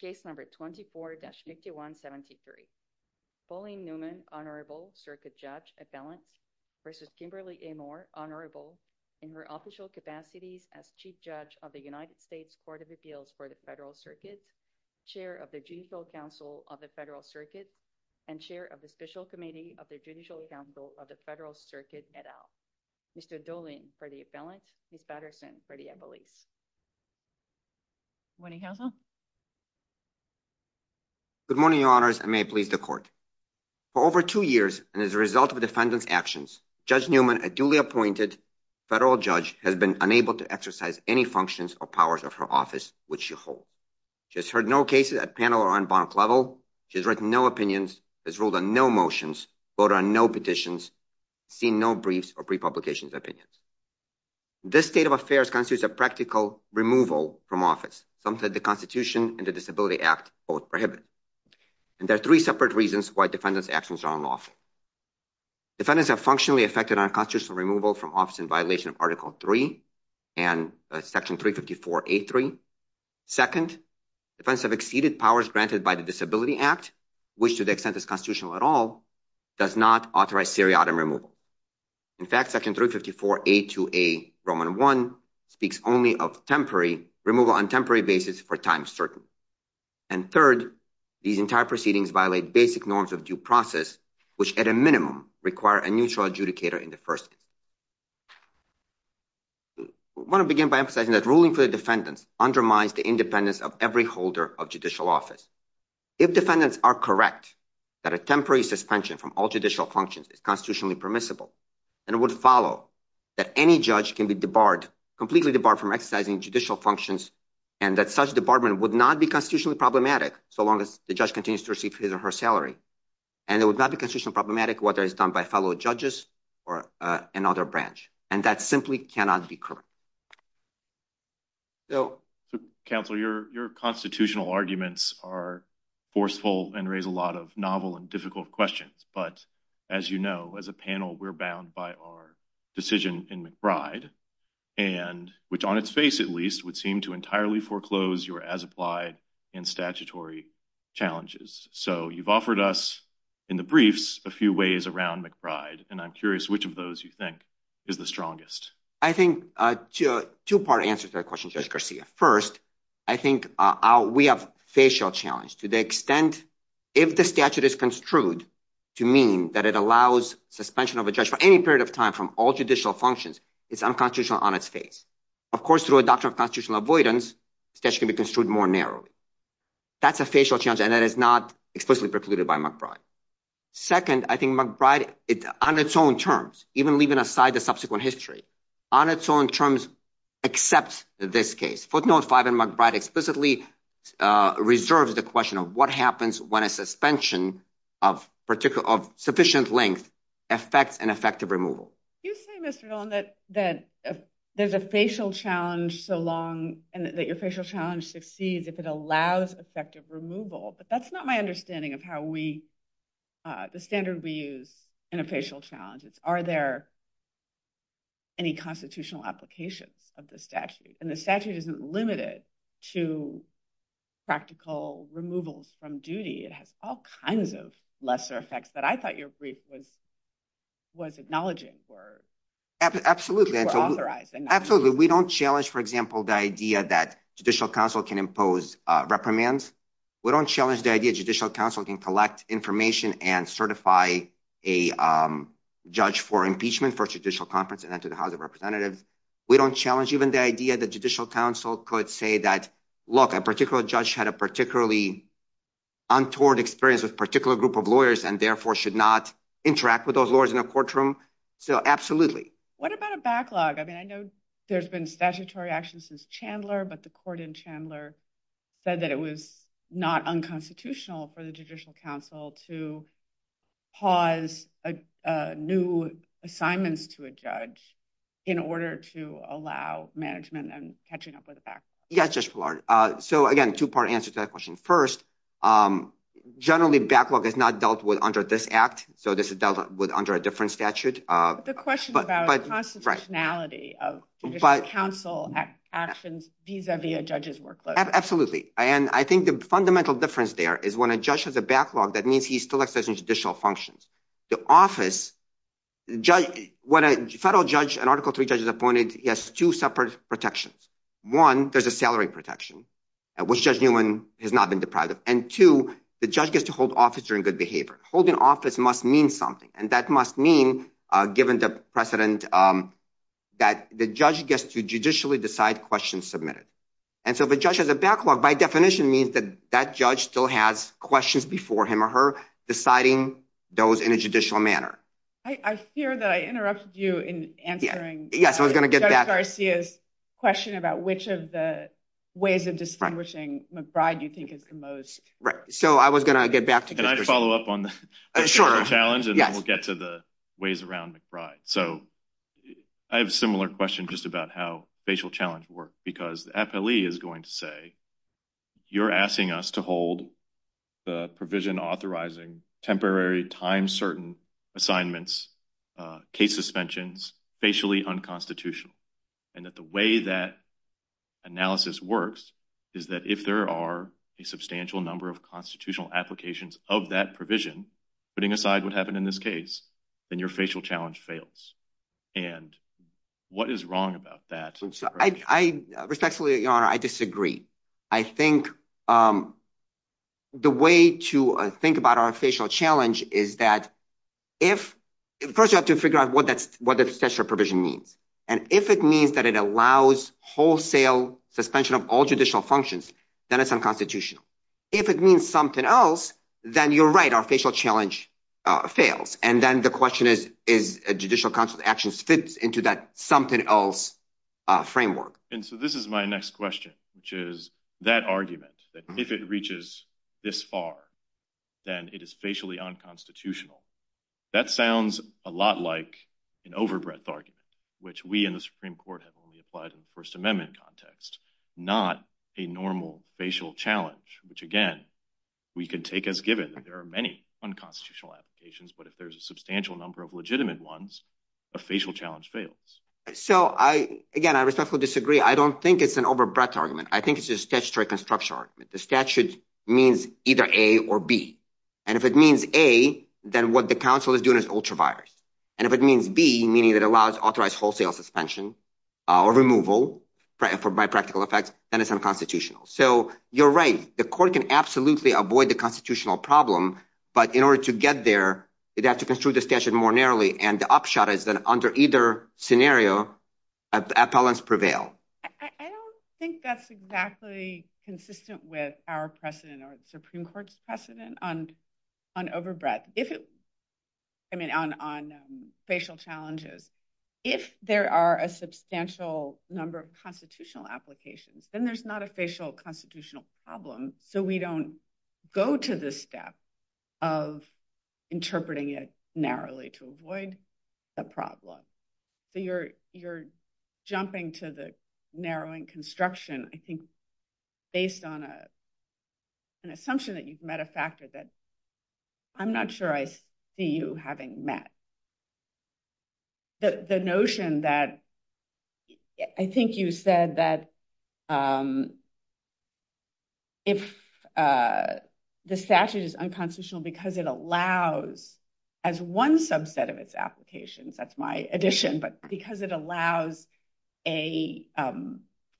case number 24-6173 Pauline Newman honorable circuit judge at balance versus Kimberly A. Moore honorable in her official capacity as chief judge of the united states court of appeals for the federal circuit chair of the judicial council of the federal circuit and chair of the special committee of the judicial council of the federal circuit et al. Mr. Dolin for the balance, Ms. Good morning your honors and may it please the court. For over two years and as a result of defendant's actions, Judge Newman, a duly appointed federal judge, has been unable to exercise any functions or powers of her office which she holds. She has heard no cases at panel or on bank level. She has written no opinions, has ruled on no motions, voted on no petitions, seen no briefs or pre-publications opinions. This state of affairs constitutes a practical removal from office something that the constitution and the disability act both prohibit. And there are three separate reasons why defendant's actions are unlawful. Defendants have functionally affected unconstitutional removal from office in violation of article 3 and section 354 a3. Second, defense have exceeded powers granted by the disability act which to the extent is constitutional at all does not authorize seriatim removal. In fact section 354 a2a roman one speaks only of temporary removal on temporary basis for time certain. And third, these entire proceedings violate basic norms of due process which at a minimum require a mutual adjudicator in the first. We want to begin by emphasizing that ruling for the defendant undermines the independence of every holder of judicial office. If defendants are correct that a temporary suspension from all functions is constitutionally permissible. And it would follow that any judge can be completely debarred from exercising judicial functions and that such debarment would not be constitutionally problematic so long as the judge continues to receive his or her salary. And it would not be constitutional problematic whether it's done by fellow judges or another branch. And that simply cannot be correct. Counselor your constitutional arguments are forceful and raise a lot of novel and difficult questions. But as you know as a panel we're bound by our decision in McBride and which on its face at least would seem to entirely foreclose your as applied and statutory challenges. So you've offered us in the briefs a few ways around McBride and I'm curious which of those you think is the strongest. I think two part answers that question Chris Garcia. First I think we have facial challenge to the extent if the statute is construed to mean that it allows suspension of a judge for any period of time from all judicial functions it's unconstitutional on its face. Of course through adoption of constitutional avoidance that can be construed more narrowly. That's a facial chance and that is not explicitly precluded by McBride. Second I think McBride on its own terms even leaving aside the subsequent history on its terms accepts this case. Footnote 5 in McBride explicitly reserves the question of what happens when a suspension of particular of sufficient length affects an effective removal. You say there's a facial challenge so long and that your facial challenge succeeds if it allows effective removal. But that's not my understanding of how we the standard we use in a facial challenge. Are there any constitutional applications of the statute? And the statute isn't limited to practical removals from duty. It has all kinds of lesser effects that I thought your brief was acknowledging or authorizing. Absolutely we don't challenge for example the idea that judicial counsel can impose reprimands. We don't challenge the idea judicial counsel can collect information and certify a judge for impeachment for judicial conference and enter the house of representative. We don't challenge even the idea that judicial counsel could say that look a particular judge had a particularly untoward experience with particular group of lawyers and therefore should not interact with those lawyers in a courtroom. So absolutely. What about a backlog? I mean I know there's been statutory action since Chandler but the court in Chandler said that it was not unconstitutional for the judicial counsel to pause a new assignment to a judge in order to allow management and catching up with the back. Yeah so again two-part answer to that question. First generally backlog is not dealt with under this act. So this is dealt with under a different statute. The question about constitutionality counsel actions vis-a-vis a judge's workload. Absolutely and I think the fundamental difference there is when a judge has a backlog that means he's still exercising judicial functions. The office judge when a federal judge an article three judge is appointed he has two separate protections. One there's a salary protection which judge Newman has not been deprived of and two the judge gets to hold office during good behavior. Holding office must mean something and that must mean given the precedent that the judge gets to judicially decide questions submitted. And so the judge has a backlog by definition means that that judge still has questions before him or her deciding those in a judicial manner. I fear that I interrupted you in answering. Yes I was going to get that question about which of the ways of distinguishing McBride you think is the most. Right so I was going to get back. Can I follow up on the challenge and we'll get to the ways around McBride. So I have a similar question just about how facial challenge work because the FLE is going to say you're asking us to hold the provision authorizing temporary time certain assignments case suspensions facially unconstitutional. And that the way that analysis works is that if there are a substantial number of constitutional applications of that putting aside what happened in this case and your facial challenge fails. And what is wrong about that? I respectfully I disagree. I think the way to think about our facial challenge is that if of course you have to figure out what that's what the special provision means. And if it means that it allows wholesale suspension of all judicial functions then it's unconstitutional. If it means something else then you're right our facial challenge fails. And then the question is is a judicial council actions fits into that something else framework. And so this is my next question which is that argument that if it reaches this far then it is facially unconstitutional. That sounds a lot like an overbreadth argument which we in the Supreme Court have argued in the federal amendment context. Not a normal facial challenge which again we can take as given there are many unconstitutional applications but if there's a substantial number of legitimate ones a facial challenge fails. So I again I respectfully disagree. I don't think it's an overbreadth argument. I think it's a statutory construction argument. The statute means either A or B. And if it means A then what the council is doing is ultra virus. And if it means B meaning that allows authorized wholesale suspension or removal for by practical effects then it's unconstitutional. So you're right the court can absolutely avoid the constitutional problem but in order to get there they'd have to construe the statute more narrowly and the upshot is that under either scenario appellants prevail. I don't think that's exactly consistent with our precedent or the if there are a substantial number of constitutional applications then there's not a facial constitutional problem so we don't go to this step of interpreting it narrowly to avoid the problem. So you're jumping to the narrowing construction I think based on a an assumption that you've met a factor that I'm not sure I see you having met. The notion that I think you said that if the statute is unconstitutional because it allows as one subset of its applications that's my addition but because it allows a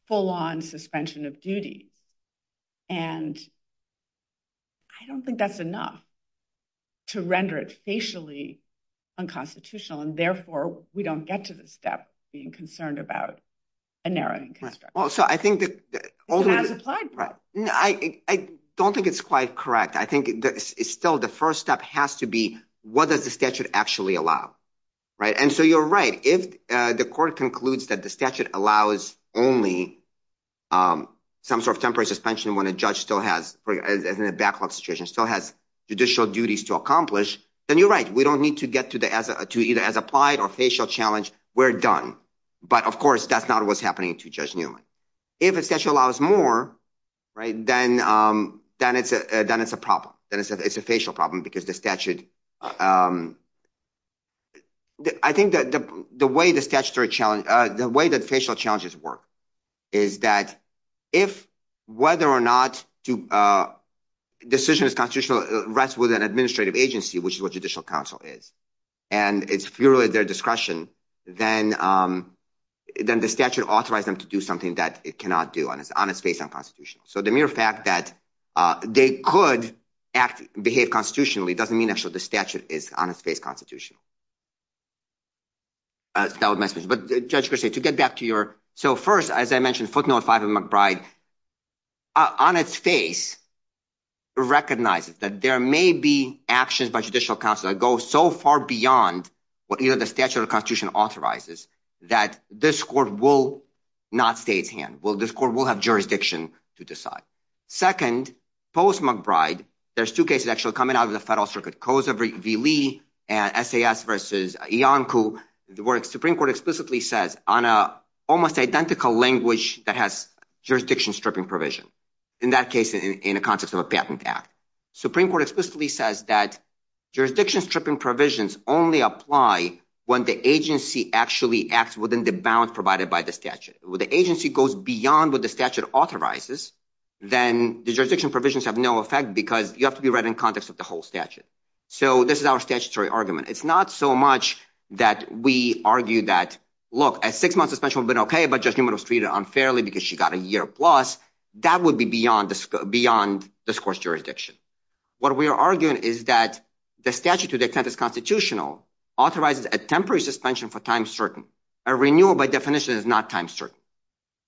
full-on suspension of duty and I don't think that's enough to render it facially unconstitutional and therefore we don't get to the step being concerned about a narrowing construct. Well so I think that I don't think it's quite correct I think it's still the first step has to be what does the statute actually allow right and so you're right if the court concludes that the statute allows only some sort of temporary suspension when a judge still has as in a backlog situation still has judicial duties to accomplish then you're right we don't need to get to either as applied or facial challenge we're done but of course that's not what's happening to Judge Newman. If it allows more right then it's a problem then it's a facial problem because the statute I think that the way the statutory challenge the way that facial challenges work is that if whether or not to decision is constitutional rests with an administrative agency which is what judicial counsel is and it's purely their discretion then the statute authorize them to do something that it cannot do and it's based on constitution so the mere fact that they could act behave constitutionally doesn't mean actually the statute is on its face constitutional. But Judge Christian to get back to your so first as I mentioned footnote five of McBride on its face recognizes that there may be actions by judicial counsel that go so far beyond what either the statute or constitution authorizes that this court will not stay its hand this court will have jurisdiction to decide. Second post McBride there's two cases actually coming out of the federal circuit COSA v. Lee and SAS v. Iancu where the Supreme Court explicitly says on a almost identical language that has jurisdiction stripping provision in that case in the context of a patent act Supreme Court explicitly says that jurisdiction stripping provisions only apply when the agency actually acts within the bound provided by the statute the agency goes beyond what the statute authorizes then the jurisdiction provisions have no effect because you have to be right in context of the whole statute. So this is our statutory argument it's not so much that we argue that look a six-month suspension would have been okay but Judge Newman was treated unfairly because she got a year plus that would be beyond this beyond this court's jurisdiction. What we are arguing is that the statute to the extent it's constitutional authorizes a temporary suspension for time certain a renewal by definition is not time certain.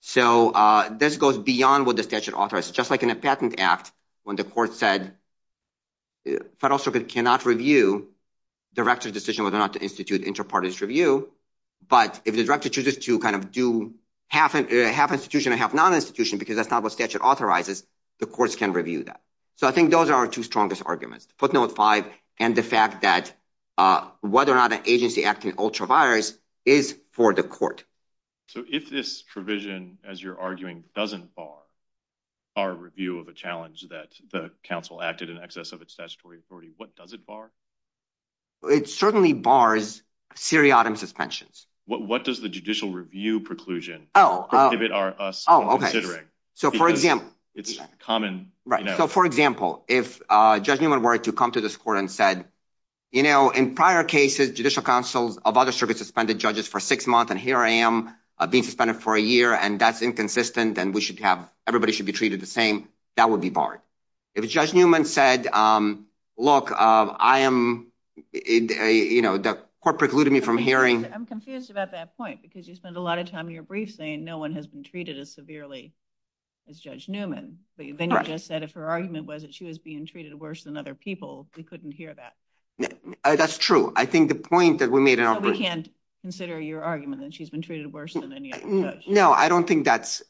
So this goes beyond what the statute authorizes just like in a patent act when the court said the federal circuit cannot review director's decision whether or not to institute inter-parties review but if the director chooses to kind of do half institution and half non-institution because that's not what statute authorizes the courts can review that. So I think those are our two strongest arguments and the fact that whether or not an agency acting ultra-virus is for the court. So if this provision as you're arguing doesn't bar our review of a challenge that the council acted in excess of its statutory authority what does it bar? It certainly bars seriatim suspensions. What does the judicial review preclusion prohibit us from considering? So for example it's common so for example if Judge Newman were to come to this court and said you know in prior cases judicial counsels of other circuits suspended judges for six months and here I am being suspended for a year and that's inconsistent and we should have everybody should be treated the same that would be barred. If Judge Newman said look I am you know the court precluded me from hearing. I'm confused about that point because you spend a lot of time in your briefing and no one has been treated as severely as Judge Newman but you just said if her argument was that she was being treated worse than other people we couldn't hear that. That's true I think the point that we made in our briefing. We can't consider your argument that she's been treated worse than any other judge. No I don't think that's.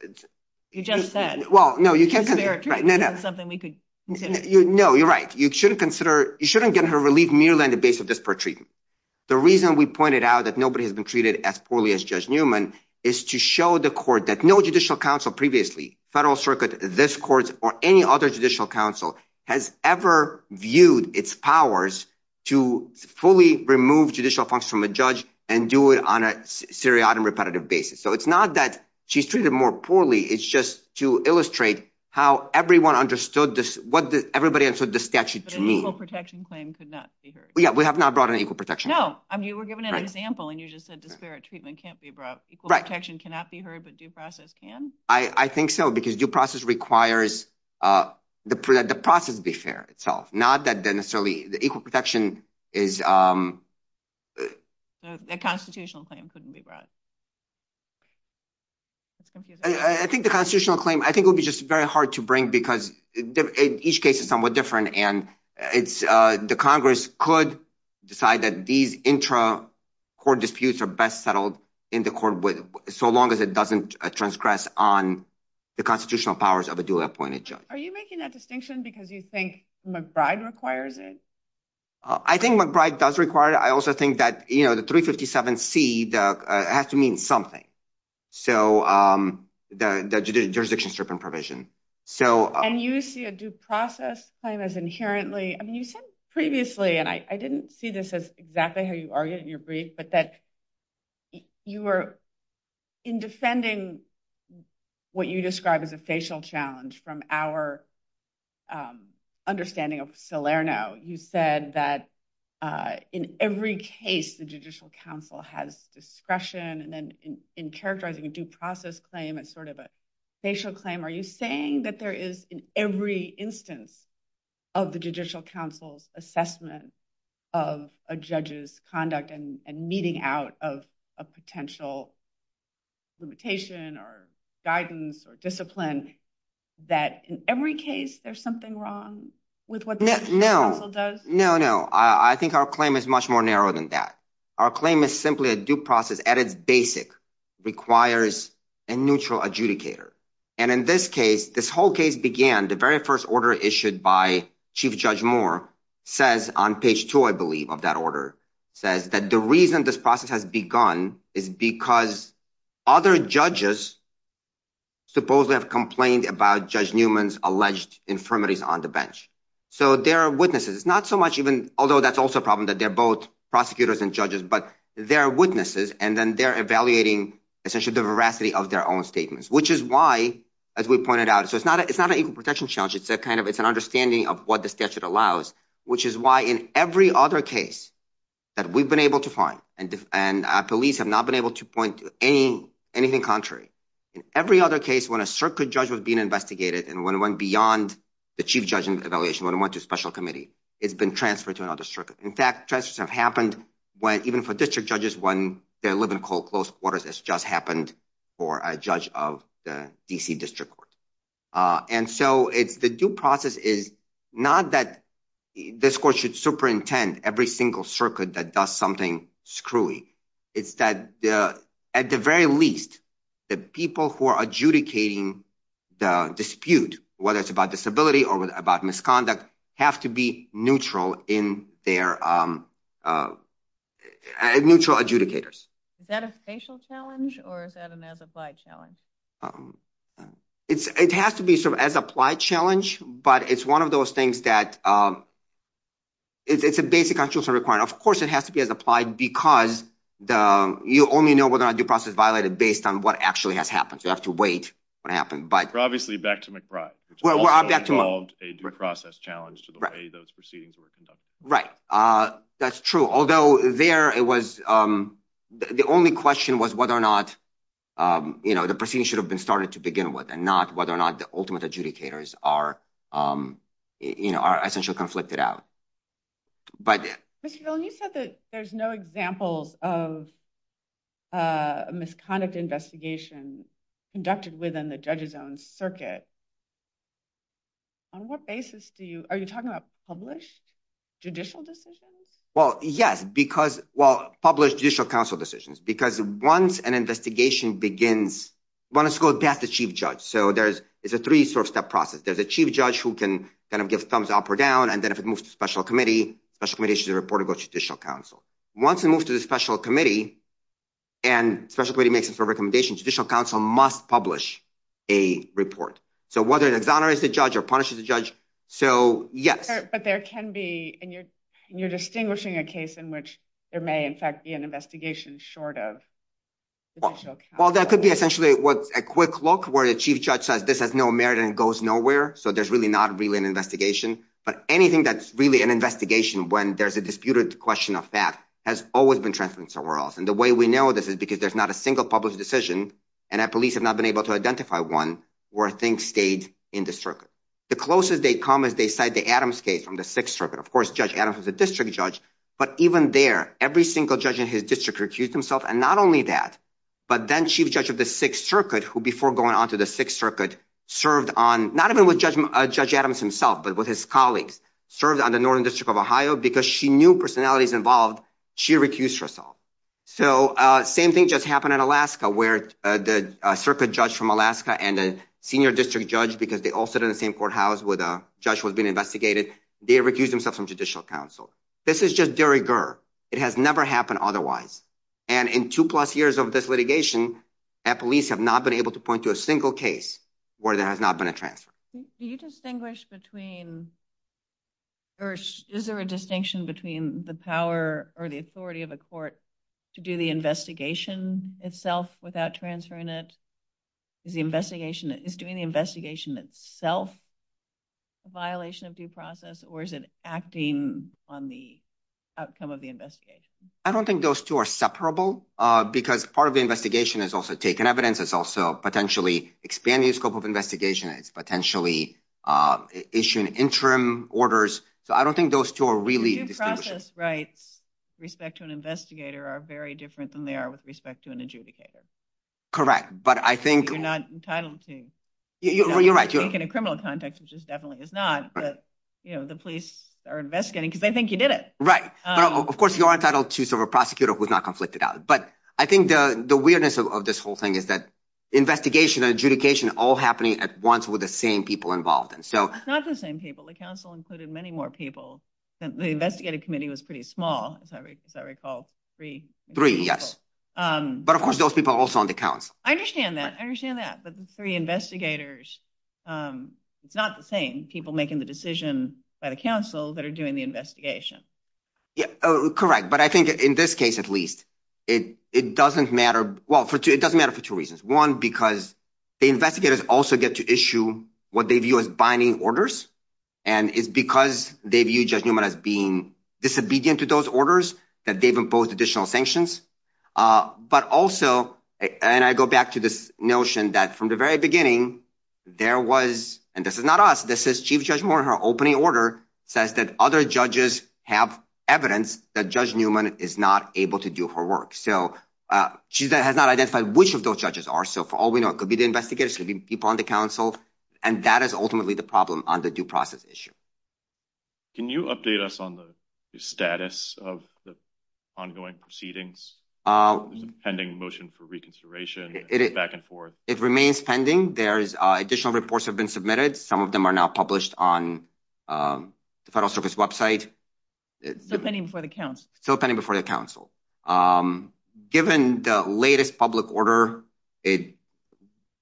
You just said. Well no you can't. Something we could consider. No you're right you shouldn't consider you shouldn't get her relieved merely on the basis of disparate treatment. The reason we pointed out that nobody has been treated as poorly as Judge Newman is to show the court that no judicial counsel previously federal circuit this court or any other judicial counsel has ever viewed its powers to fully remove judicial functions from a judge and do it on a serious and repetitive basis. So it's not that she's treated more poorly it's just to illustrate how everyone understood this what everybody understood the statute to mean. But an equal protection claim could not be heard. Yeah we have not brought an equal protection. No I mean you were given an example and you just said disparate treatment can't be brought. Equal protection cannot be heard but due process can. I think so because due process requires that the process be fair itself not that necessarily the equal protection is. A constitutional claim couldn't be brought. I think the constitutional claim I think will be just very hard to bring because in each case is somewhat different and it's the Congress could decide that these intra court disputes are best settled in the court with so long as it doesn't transgress on the constitutional powers of a duly appointed judge. Are you making that distinction because you think McBride requires it? I think McBride does require it. I also think that you know the 357c has to mean something. So the jurisdiction strip and provision. And you see a due process claim as inherently I mean you said previously and I didn't see this as exactly how you argued your brief but that you were in defending what you describe as a facial challenge from our understanding of Salerno. You said that in every case the judicial counsel has discretion and then in characterizing a due process claim as sort of a facial claim. Are you saying that there is in every instance of the judicial counsel's assessment of a judge's conduct and meeting out of a potential limitation or guidance or discipline that in every case there's something wrong with what the judicial counsel does? No, no. I think our claim is much more narrow than that. Our claim is simply a due process at its basic requires a neutral adjudicator. And in this case this whole case began the very first order issued by Chief Judge Moore says on page two I believe of that order says that the reason this process has begun is because other judges supposedly have complained about Judge Newman's alleged infirmities on the bench. So there are witnesses. It's not so much even although that's also a problem that they're both prosecutors and judges but there are witnesses and then they're evaluating essentially the veracity of their own statements. Which is why as we pointed out so it's not it's not a protection challenge it's that kind of it's an understanding of what the statute allows which is why in every other case that we've been able to find and and police have not been able to point to any anything contrary. In every other case when a circuit judge was being investigated and when went beyond the chief judge's evaluation when went to special committee it's been transferred to another circuit. In fact transfers have happened when even for district judges when they live in close quarters this just happened for a judge of the DC district court. And so it's the due process is not that this court should superintend every single circuit that does something screwy. It's that at the very least the people who are adjudicating the dispute whether it's about disability or about misconduct have to be neutral in their neutral adjudicators. Is that a facial challenge or is that a applied challenge? It has to be sort of as applied challenge but it's one of those things that it's a basic actual requirement. Of course it has to be as applied because the you only know whether a due process violated based on what actually has happened. So you have to wait what happened. But obviously back to McBride it's a process challenge to the way those proceedings were conducted. Right that's true although there it was the only question was whether or not you know the proceeding should have been started to begin with and not whether or not the ultimate adjudicators are you know are essentially conflicted out. But you said that there's no example of a misconduct investigation conducted within the judges own circuit. On what basis do you are you talking about published judicial decisions? Well yes because well published judicial council decisions. Because once an investigation begins one has to go back to chief judge. So there's it's a three sort of step process. There's a chief judge who can kind of give thumbs up or down and then if it moves to special committee special committee should report it to judicial council. Once it moves to the special committee and special committee makes a recommendation judicial council must publish a report. So whether it exonerates the judge or punishes the judge. So yes but there can be and you're you're distinguishing a case in which there may in fact be an investigation short of. Well that could be essentially what a quick look where the chief judge says this has no merit and goes nowhere. So there's really not really an investigation. But anything that's really an investigation when there's a disputed question of that has always been transferred somewhere else. And the way we know this is because there's not a single published decision and that police have not been able to identify one where things stayed in the circuit. The closest they come is they cite the Adams case from the sixth circuit. Of course Judge Adams was a district judge but even there every single judge in his district recused himself and not only that but then chief judge of the sixth circuit who before going on to the sixth circuit served on not even with Judge Adams himself but with his colleagues served on the northern district of Ohio because she knew personalities involved she recused herself. So same thing just happened in Alaska where the circuit judge from Alaska and a senior district judge because they all sit in the same courthouse with a judge was being investigated they refused himself from judicial counsel. This is just de rigueur it has never happened otherwise and in two plus years of this litigation that police have not been able to point to a single case where there has not been a transfer. Do you distinguish between or is there a distinction between the power or the authority of a court to do the investigation itself without transferring it is the investigation that is doing the investigation itself a violation of due process or is it acting on the outcome of the investigation? I don't think those two are separable because part of the investigation is also taking evidence it's also potentially expanding the scope of investigation it's potentially issuing interim orders so I don't think those two are really. The due process rights respect to an investigator are very different than they are with respect to an adjudicator. Correct but I think. You're not entitled to. Well you're in a criminal context which is definitely is not but you know the police are investigating because they think you did it. Right so of course you are entitled to serve a prosecutor who's not conflicted out but I think the the weirdness of this whole thing is that investigation adjudication all happening at once with the same people involved and so. It's not the same people the council included many more people the investigative committee was pretty small as I recall three. Three yes but of course those people also on the council. I understand that but the three investigators it's not the same people making the decision by the council that are doing the investigation. Yeah correct but I think in this case at least it it doesn't matter well for it doesn't matter for two reasons one because the investigators also get to issue what they view as binding orders and it's because they view Judge Newman as being disobedient to those orders that they've imposed additional sanctions but also and I go back to this notion that from the very beginning there was and this is not us this is Chief Judge Moore her opening order says that other judges have evidence that Judge Newman is not able to do her work. So she has not identified which of those judges are so for all we know it could be the investigators could be people on the council and that is ultimately the problem on the due process issue. Can you update us on the status of the ongoing proceedings um pending motion for reconsideration back and forth? It remains pending there's additional reports have been submitted some of them are now published on the federal service website. Still pending before the council. Still pending before the council um given the latest public order it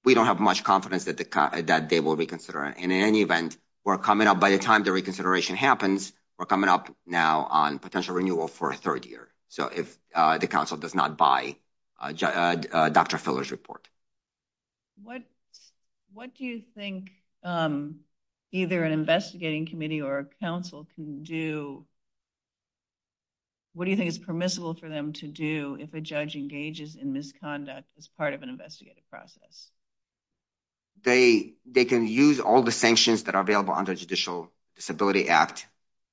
we don't have much confidence that the that they will reconsider and in any event we're coming up by the time the reconsideration happens we're coming up now on potential renewal for a third year so if uh Council does not buy Dr. Filler's report. What what do you think um either an investigating committee or council can do what do you think is permissible for them to do if a judge engages in misconduct as part of an investigative process? They they can use all the sanctions that are available under Judicial Disability Act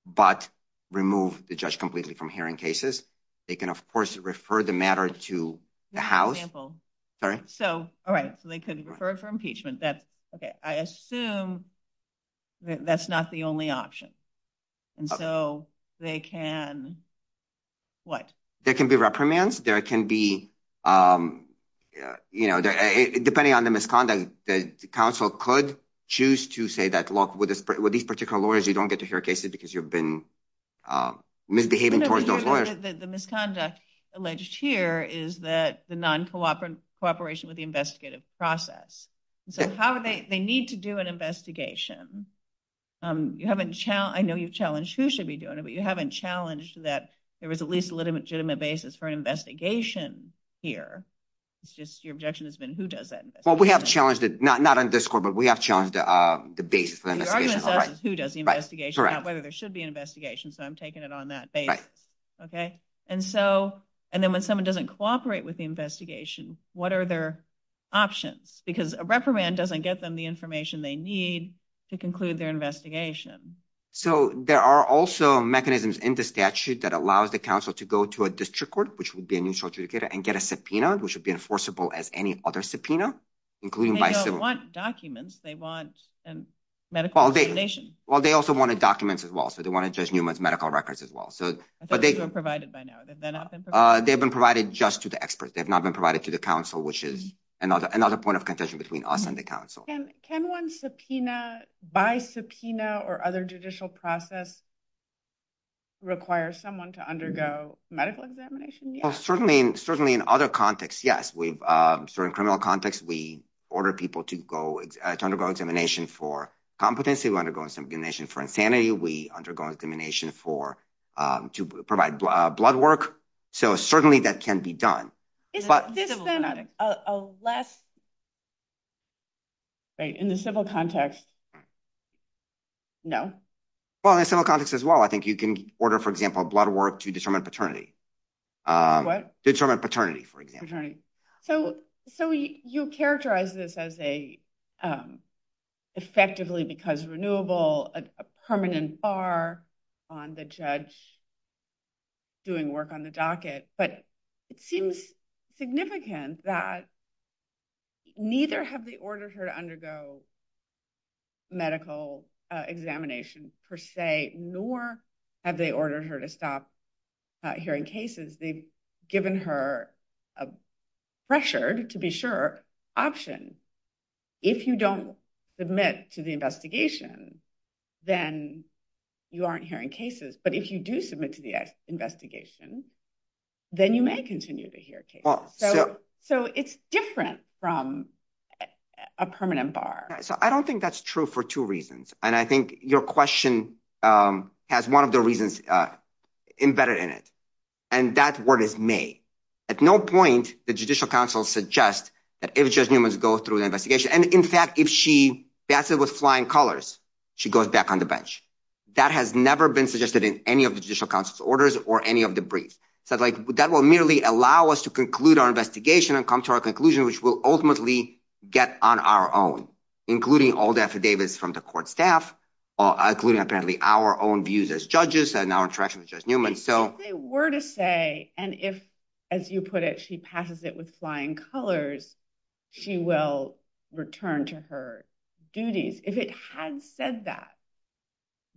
but remove the judge completely from hearing cases. They can of course refer the matter to the house. So all right so they could refer for impeachment that's okay I assume that that's not the only option and so they can what? There can be reprimands there can be um yeah you know depending on the misconduct the council could choose to say that look with this with these particular lawyers you don't get to hear cases because you've been misbehaving. The misconduct alleged here is that the non-cooperative cooperation with the investigative process so how do they they need to do an investigation um you haven't challenged I know you've challenged who should be doing it but you haven't challenged that there was at least a legitimate basis for an investigation here it's just your objection has been who does that well we have challenged it not not on this court but we have on the uh the basis who does the investigation not whether there should be an investigation so I'm taking it on that basis okay and so and then when someone doesn't cooperate with the investigation what are their options because a reprimand doesn't get them the information they need to conclude their investigation so there are also mechanisms in the statute that allows the council to go to a district court which would be an insult to the data and get a subpoena which would be enforceable as any other subpoena. They don't want documents they want a medical information well they also wanted documents as well so they want to judge Newman's medical records as well so but they don't provide it by now uh they've been provided just to the experts they've not been provided to the council which is another another point of contention between us and the council. Can one subpoena by subpoena or other judicial process require someone to undergo medical examination? Well certainly certainly in other contexts yes we've um certain criminal context we order people to go to undergo examination for competency to undergo examination for insanity we undergo incrimination for um to provide blood work so certainly that can be done right in the civil context no well in civil context as well I think you can order for example blood work to determine paternity um determine paternity for example right so so you characterize this as a um effectively because renewable a permanent bar on the judge doing work on the docket but it seems significant that neither have they ordered her to undergo medical examination per se nor have they ordered her to stop hearing cases they've given her a pressured to be sure option if you don't submit to the investigation then you aren't hearing cases but if you do submit to the investigation then you may continue to hear cases so it's different from a permanent bar so I don't think that's true for two reasons and I think your question um has one of the reasons uh embedded in it and that's what is made at no point the judicial council suggest that if just humans go through the investigation and in fact if she passes with flying colors she goes back on the bench that has never been suggested in any of the judicial council's orders or any of the briefs so like that will merely allow us to conclude our investigation and come to our conclusion which will ultimately get on our own including all the affidavits from the court staff or including apparently our own views as judges and our interactions just Newman so they were to say and if as you put it she passes it with flying colors she will return to her duties if it had said that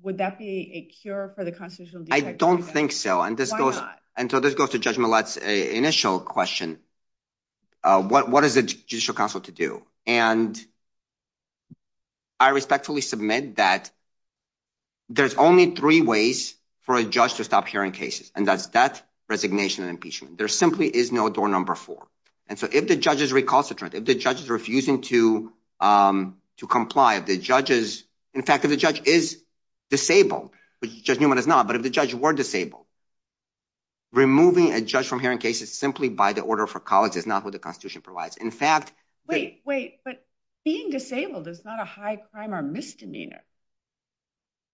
would that be a cure for the constitutional I don't think so and this goes and so this goes to judgment let's initial question uh what what is the judicial council to do and I respectfully submit that there's only three ways for a judge to stop hearing cases and that's that resignation and impeachment there simply is no door number four and so if the judge is recalcitrant if the judge is refusing to um to comply if the judge is in fact if the judge is disabled which just Newman is not but if the judge were disabled removing a judge from hearing cases simply by the order for college is not what the constitution provides in fact wait wait but being disabled is not a high crime or misdemeanor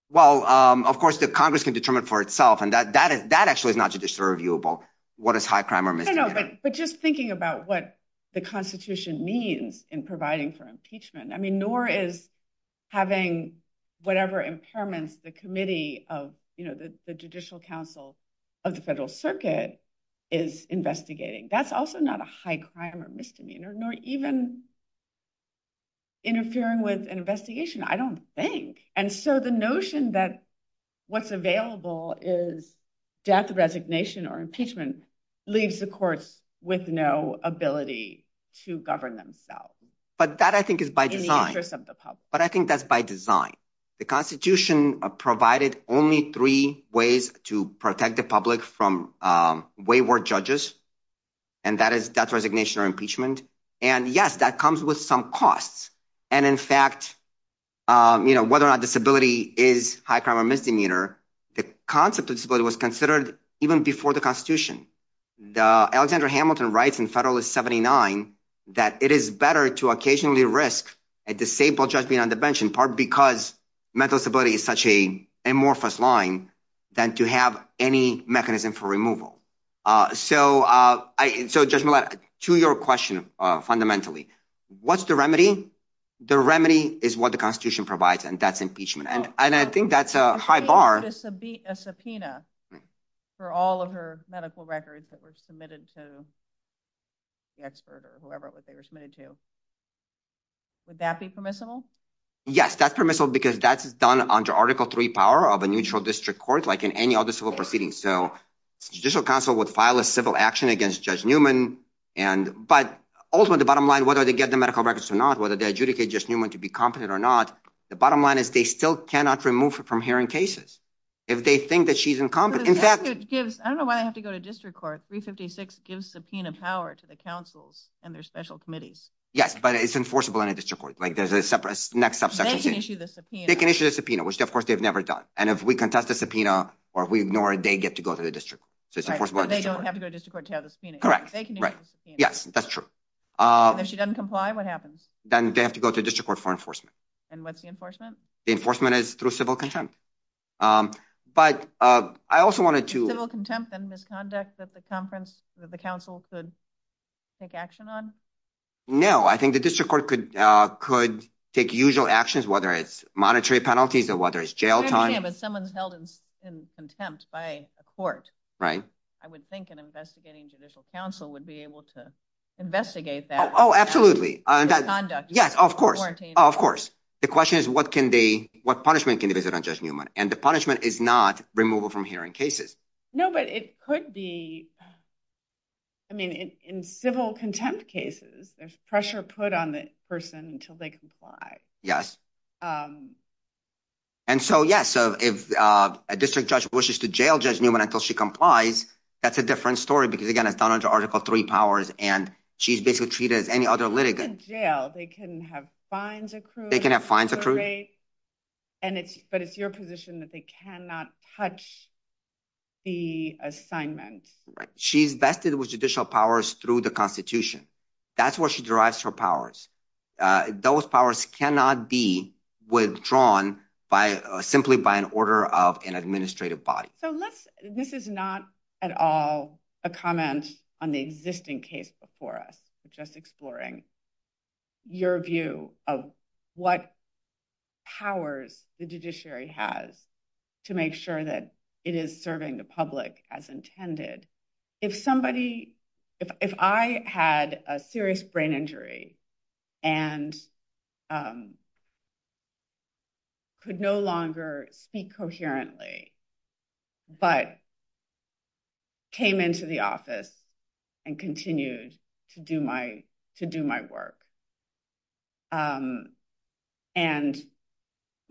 well um of course the congressman determined for itself and that that is that actually is not to disturb you about what is high crime or misdemeanor but just thinking about what the constitution means in providing for impeachment I mean nor is having whatever impairments the committee of you know the judicial council of the federal circuit is investigating that's also not a high crime or misdemeanor nor even interfering with an investigation I don't think and so the notion that what's available is death resignation or impeachment leaves the courts with no ability to govern themselves but that I think is by design but I think that's by design the constitution provided only three ways to protect the public from uh wayward judges and that is that's resignation or impeachment and yes that comes with some costs and in fact um you know whether or not disability is high crime or misdemeanor the concept of disability was considered even before the constitution the alexander hamilton writes in federalist 79 that it is better to occasionally risk a disabled judge being on the bench in part because mental stability is such a amorphous line than to have any mechanism for removal uh so uh I so judgment to your question uh fundamentally what's the remedy the remedy is what the constitution provides and that's and I think that's a high bar a subpoena for all of her medical records that were submitted to the expert or whoever they were submitted to would that be permissible yes that's permissible because that's done under article three power of a neutral district court like in any other civil proceedings so judicial council would file a civil action against judge newman and but also the bottom line whether they get the medical records or not whether they adjudicate just to be competent or not the bottom line is they still cannot remove her from hearing cases if they think that she's incompetent I don't know why I have to go to district court 356 gives subpoena power to the council and their special committee yes but it's enforceable in a district court like there's a separate next step they can issue the subpoena which of course they've never done and if we contest the subpoena or we ignore they get to go to the district so they don't have to go to district court to have the subpoena correct yes that's if she doesn't comply what happens then they have to go to district court for enforcement and what's the enforcement the enforcement is through civil contempt um but uh I also wanted to civil contempt and misconduct that the conference that the council could take action on no I think the district court could uh could take usual actions whether it's monetary penalties or whether it's jail time but someone's held in contempt by a court right I would think an judicial counsel would be able to investigate that oh absolutely yes of course of course the question is what can be what punishment can be given just Newman and the punishment is not removal from hearing cases no but it could be I mean in civil contempt cases there's pressure put on the person until they comply yes um and so yes so if uh a district judge wishes to jail judge Newman until she complies that's a different story because again it fell into article three powers and she's basically treated as any other litigant jail they can have fines accrued they can have fines accrued and it's but it's your position that they cannot touch the assignment right she's vested with judicial powers through the constitution that's where she derives her powers uh those powers cannot be withdrawn by simply by an order of an administrative body so let's this is not at all a comment on the existing case before us just exploring your view of what powers the judiciary has to make sure that it is serving the public as intended if somebody if I had a serious brain injury and um um could no longer speak coherently but came into the office and continued to do my to do my work and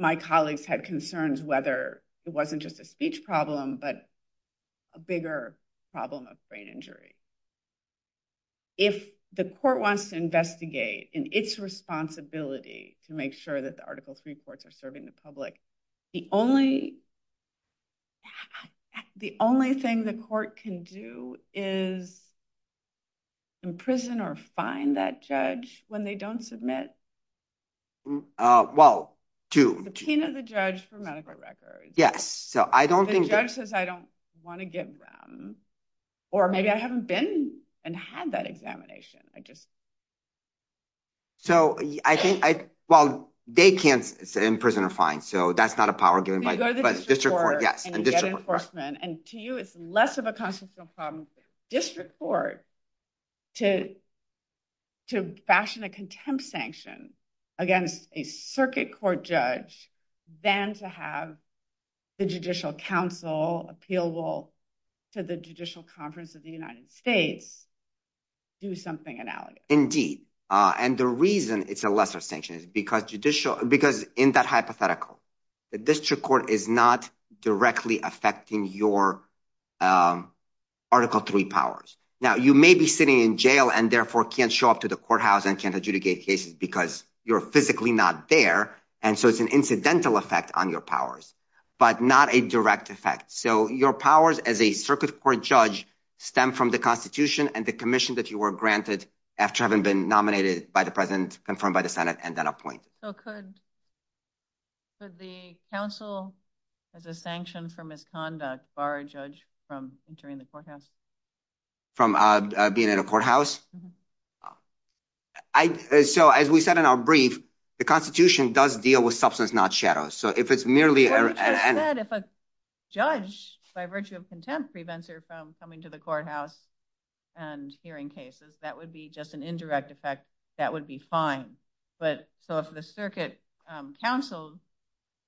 my colleagues had concerns whether it wasn't just a speech problem but a bigger problem of brain injury if the court wants to investigate in its responsibility to make sure that the article three courts are serving the public the only the only thing the court can do is imprison or find that judge when they don't submit uh well to the king of the judge for medical records yes so I don't think judges I don't want to give them or maybe I haven't been and had that examination I guess so I think I well they can't say in prison or fine so that's not a power given by the district court yes and to you it's less of a constitutional problem district court to to fashion a contempt sanction against a circuit court judge than to have the judicial council appealable to the judicial conference of the United States do something analogous indeed uh and the reason it's a lesser sanction is because judicial because in that hypothetical the district court is not directly affecting your um article three powers now you may be sitting in jail and therefore can't show up to the courthouse and can't adjudicate cases because you're physically not there and so it's an incidental effect on your powers but not a direct effect so your powers as a circuit court judge stem from the constitution and the commission that you were granted after having been nominated by the president confirmed by the senate and then appointed so could could the council as a sanction for misconduct bar a judge from entering the courthouse from uh being in a courthouse I so as we said in our brief the constitution does deal with substance not shadows so if it's merely if a judge by virtue of contempt prevents her from coming to the courthouse and hearing cases that would be just an indirect effect that would be fine but so if the circuit um council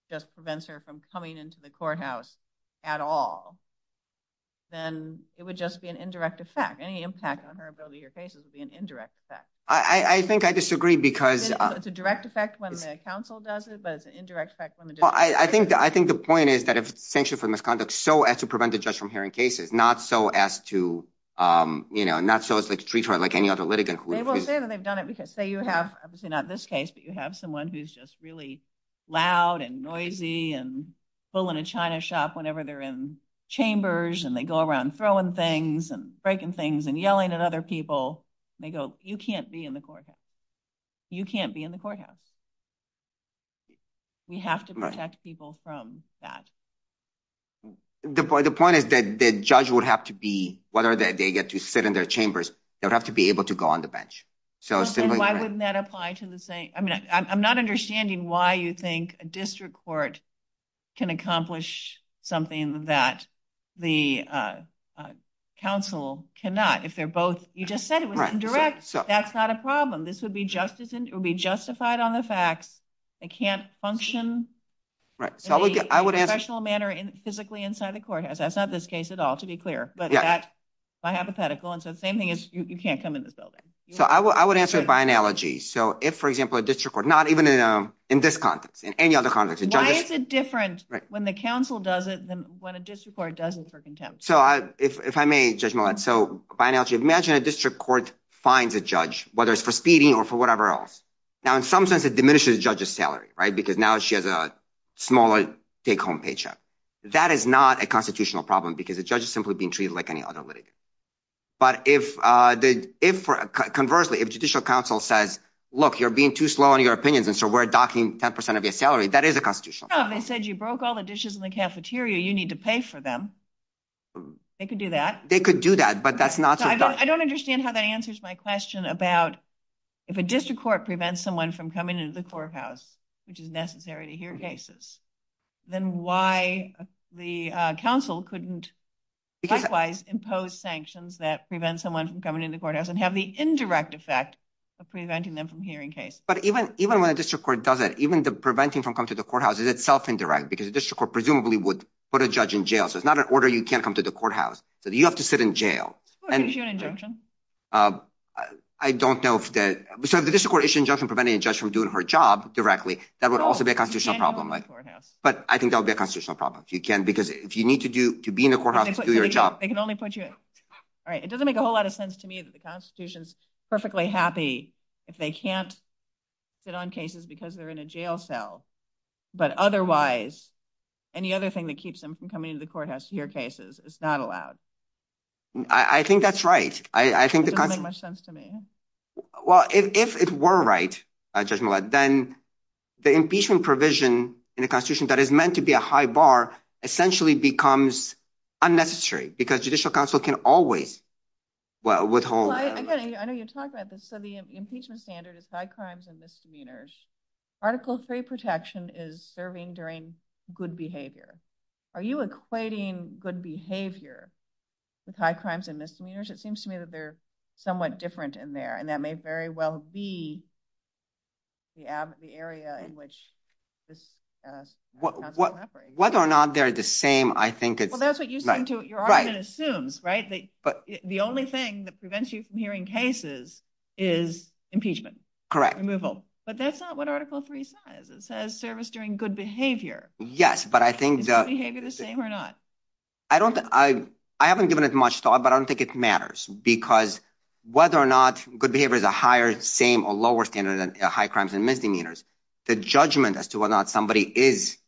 just prevents her from coming into the courthouse at all then it would just be an indirect effect any impact on her ability your cases would be an indirect effect I I think I disagree because it's a direct effect when a council does it but it's an indirect effect well I think I think the point is that if sanctioned for misconduct so as to prevent the judge from hearing cases not so as to um you know not so as to treat her like any other litigant they've done it because say you have obviously not this case but you have someone who's just really loud and noisy and full in a china shop whenever they're in chambers and they go around throwing things and breaking things and yelling at other people they go you can't be in the courthouse you can't be in the courthouse we have to protect people from that the point the point is that the judge would have to be whatever that they get to sit in their chambers they'll have to be able to go on the bench so why wouldn't that apply to the same I mean I'm not understanding why you think a district court can accomplish something that the uh council cannot if they're both you just said it was indirect so that's not a problem this would be justice and it would be justified on the fact they can't function right so I would get I would have a professional manner in physically inside the courthouse that's not this case at all to be clear but that's my hypothetical and so the same thing is you can't come in this building so I would answer it by analogy so if for example not even in a in this context in any other context why is it different when the council does it than when a district court does it for contempt so I if I may judge my let so by analogy imagine a district court finds a judge whether it's for speeding or for whatever else now in some sense it diminishes judges salary right because now she has a smaller take-home paycheck that is not a constitutional problem because the judge is simply being treated like any other lady but if uh if conversely if judicial counsel says look you're being too slow on your opinions and so we're docking 10 of your salary that is a constitutional they said you broke all the dishes in the cafeteria you need to pay for them they could do that they could do that but that's not I don't understand how that answers my question about if a district court prevents someone from coming into the courthouse which is necessary to hear cases then why the council couldn't likewise impose sanctions that prevent someone from coming in the courthouse and have the indirect effect of preventing them from hearing case but even even when a district court does it even the preventing from come to the courthouse is itself indirect because the district court presumably would put a judge in jail so it's not an order you can't come to the courthouse so you have to sit in jail and I don't know if that so if the district court issue injunction preventing a judge from doing her job directly that would also be a constitutional problem but I think they'll be a constitutional problem if you can because if you need to do to be in the courthouse to do your job they can only put you in all right it doesn't make a whole lot of sense to me that the constitution's perfectly happy if they can't sit on cases because they're in a jail cell but otherwise any other thing that keeps them from coming to the courthouse to hear cases it's not allowed I think that's right I think it doesn't make much sense to me well if it were right judgment then the impeachment provision in the constitution that is meant to be a high bar essentially becomes unnecessary because judicial counsel can always well withhold again I know you're talking about this so the impeachment standard is high crimes and misdemeanors article of faith protection is serving during good behavior are you equating good behavior with high crimes and misdemeanors it seems to me that they're somewhat different in there and that may very well be the area in which whether or not they're the same I think the only thing that prevents you from hearing cases is impeachment correct removal but that's not what article 3 says it says service during good behavior yes but I think the same or not I don't I I haven't given it much thought but I don't think it matters because whether or not good behavior is a higher same or lower standard than high crimes and misdemeanors the judgment as to whether or not somebody is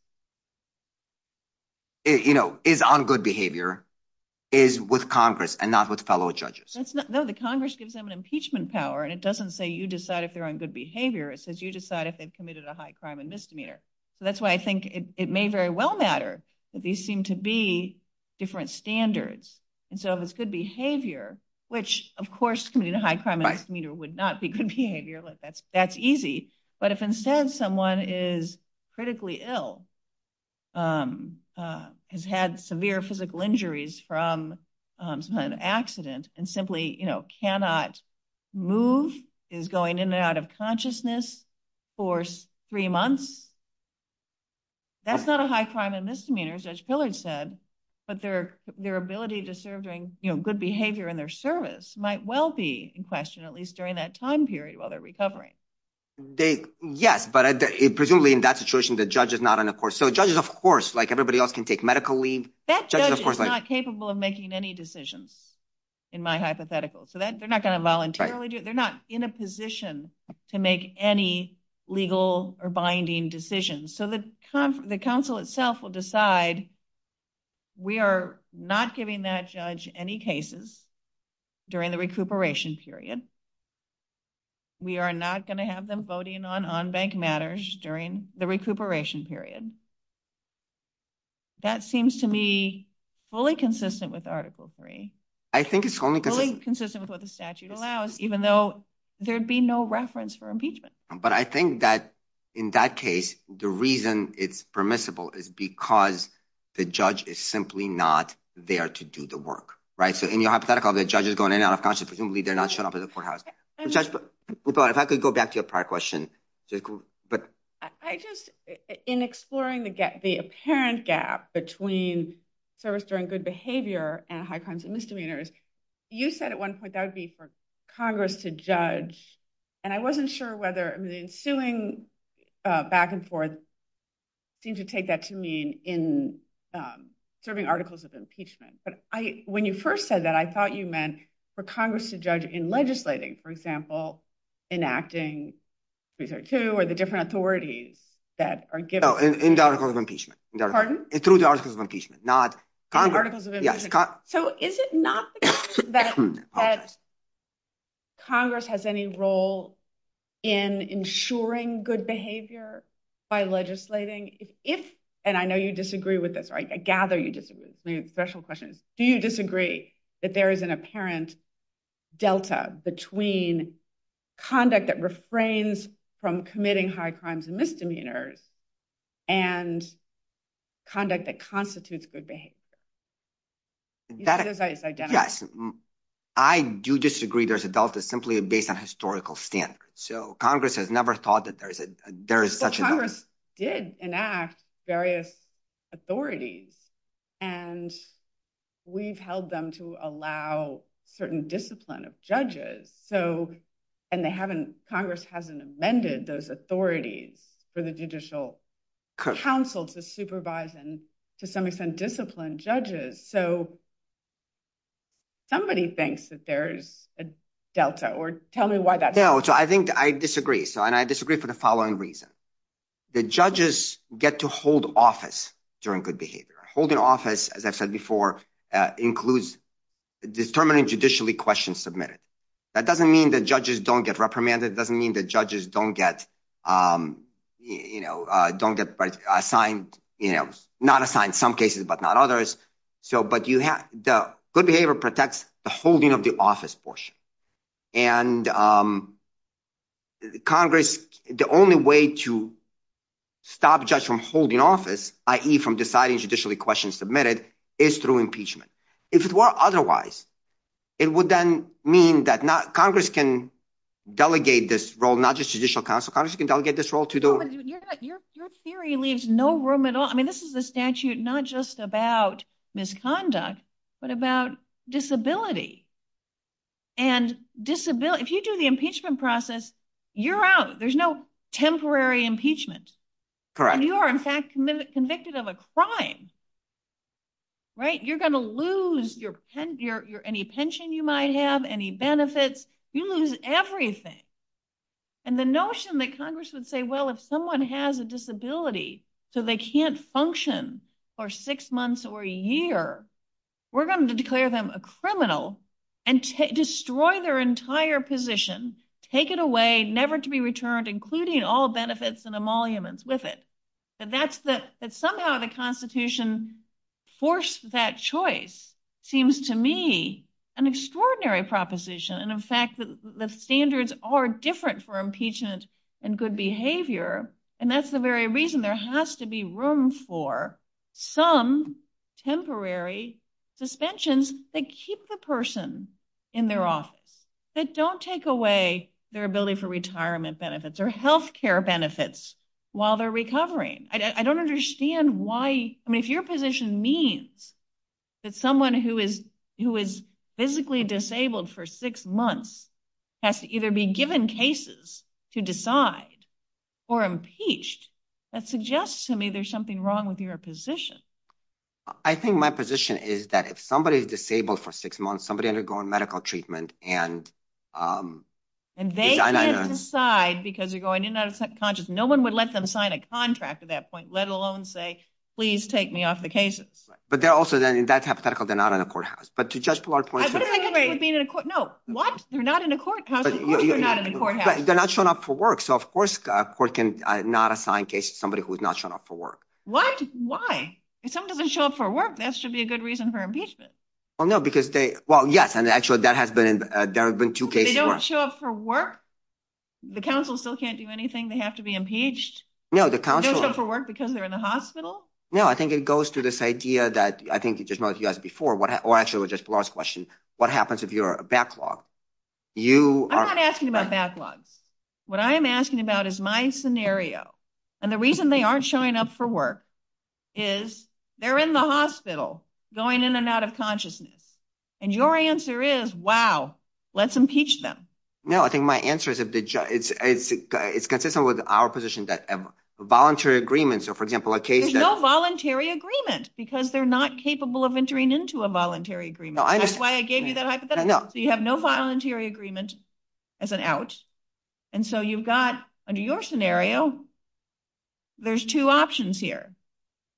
you know is on good behavior is with congress and not with fellow judges no the congress gives them an impeachment power and it doesn't say you decide if they're on good behavior it says you decide if they've committed a high crime and misdemeanor so that's I think it may very well matter but these seem to be different standards and so if it's good behavior which of course committing a high crime and misdemeanor would not be good behavior that's that's easy but if instead someone is critically ill has had severe physical injuries from some kind of accident and simply you know cannot move is going in and out of consciousness for three months that's not a high crime and misdemeanor judge pillard said but their their ability to serve during you know good behavior in their service might well be in question at least during that time period while they're recovering they yes but it presumably in that situation the judge is not on the court so judges of course like everybody else can take medical leave that judge is not capable of making any decisions in my hypothetical so that they're not going to voluntarily do they're not in a position to make any legal or binding decisions so the council itself will decide we are not giving that judge any cases during the recuperation period we are not going to have them voting on on bank matters during the recuperation period um that seems to me fully consistent with article three i think it's only consistent with what the statute allows even though there'd be no reference for impeachment but i think that in that case the reason it's permissible is because the judge is simply not there to do the work right so in your hypothetical the judge is going in and out of conscious presumably they're not showing up at but i just in exploring to get the apparent gap between service during good behavior and high crimes and misdemeanors you said at one point that would be for congress to judge and i wasn't sure whether i mean suing uh back and forth seems to take that to mean in um serving articles of impeachment but i when you first said that i thought you meant for congress to judge in legislating for example enacting two or the different authorities that are given in the article of impeachment pardon through the article of impeachment not so is it not that congress has any role in ensuring good behavior by legislating if and i know you disagree with this right i gather you disagree special questions do you disagree that there is an apparent delta between conduct that refrains from committing high crimes and misdemeanors and conduct that constitutes good behavior that is identical yes i do disagree there's a delta simply based on historical standards so congress has never thought that there is a there is such a of judges so and they haven't congress hasn't amended those authorities for the judicial council to supervise and to some extent discipline judges so somebody thinks that there's a delta or tell me why that no so i think i disagree so and i disagree for the following reason the judges get to hold office during good behavior holding office as i before uh includes determining judicially questions submitted that doesn't mean that judges don't get reprimanded doesn't mean that judges don't get um you know uh don't get assigned you know not assigned some cases but not others so but you have the good behavior protects the holding of the office portion and um congress the only way to stop judge from holding office i.e. from deciding judicially questions submitted is through impeachment if it were otherwise it would then mean that not congress can delegate this role not just judicial council can delegate this role to the your theory leaves no room at all i mean this is the statute not just about misconduct but about disability and disability if you do the impeachment process you're out there's no temporary impeachment correct you are in fact convicted of a crime right you're going to lose your pen your any pension you might have any benefits you lose everything and the notion that congress would say well if someone has a disability so they can't function for six months or a year we're going to declare them a criminal and destroy their entire position take it away never to be returned including all benefits and emoluments with it but that's that that somehow the constitution forced that choice seems to me an extraordinary proposition and in fact the standards are different for impeachment and good behavior and that's the very reason there has to be room for some temporary suspensions that keep the person in their office that don't take away their ability for retirement benefits or health care benefits while they're recovering i don't understand why i mean if your position means that someone who is who is physically disabled for six months has to either be given cases to decide or impeached that suggests to me there's something wrong with your position i think my position is that if somebody is disabled for six months somebody undergoing medical treatment and um and they decide because you're going in that subconscious no one would let them sign a contract at that point let alone say please take me off the cases but they're also then in that hypothetical they're not in a courthouse but to just no what you're not in a court they're not shown up for work so of course a court can not assign cases somebody who's not showing up for work why why if something doesn't show up for work that should be a good reason for impeachment well no because they well yes and actually that has been there have been two cases they don't show up for work the council still can't do anything they have to be impeached no the council for work because they're in the hospital no i think it goes to this idea that i think you just know if you asked before what actually was just the last question what happens if you're a backlog you i'm not asking about backlog what i am asking about is my scenario and the reason they aren't showing up for work is they're in the hospital going in and out of consciousness and your answer is wow let's impeach them no i think my answer is if the judge it's it's consistent with our position that voluntary agreements are for example a case there's no voluntary agreement because they're not capable of entering into a voluntary agreement that's why i gave you that hypothetical so you have no voluntary agreement as an out and so you've got your scenario there's two options here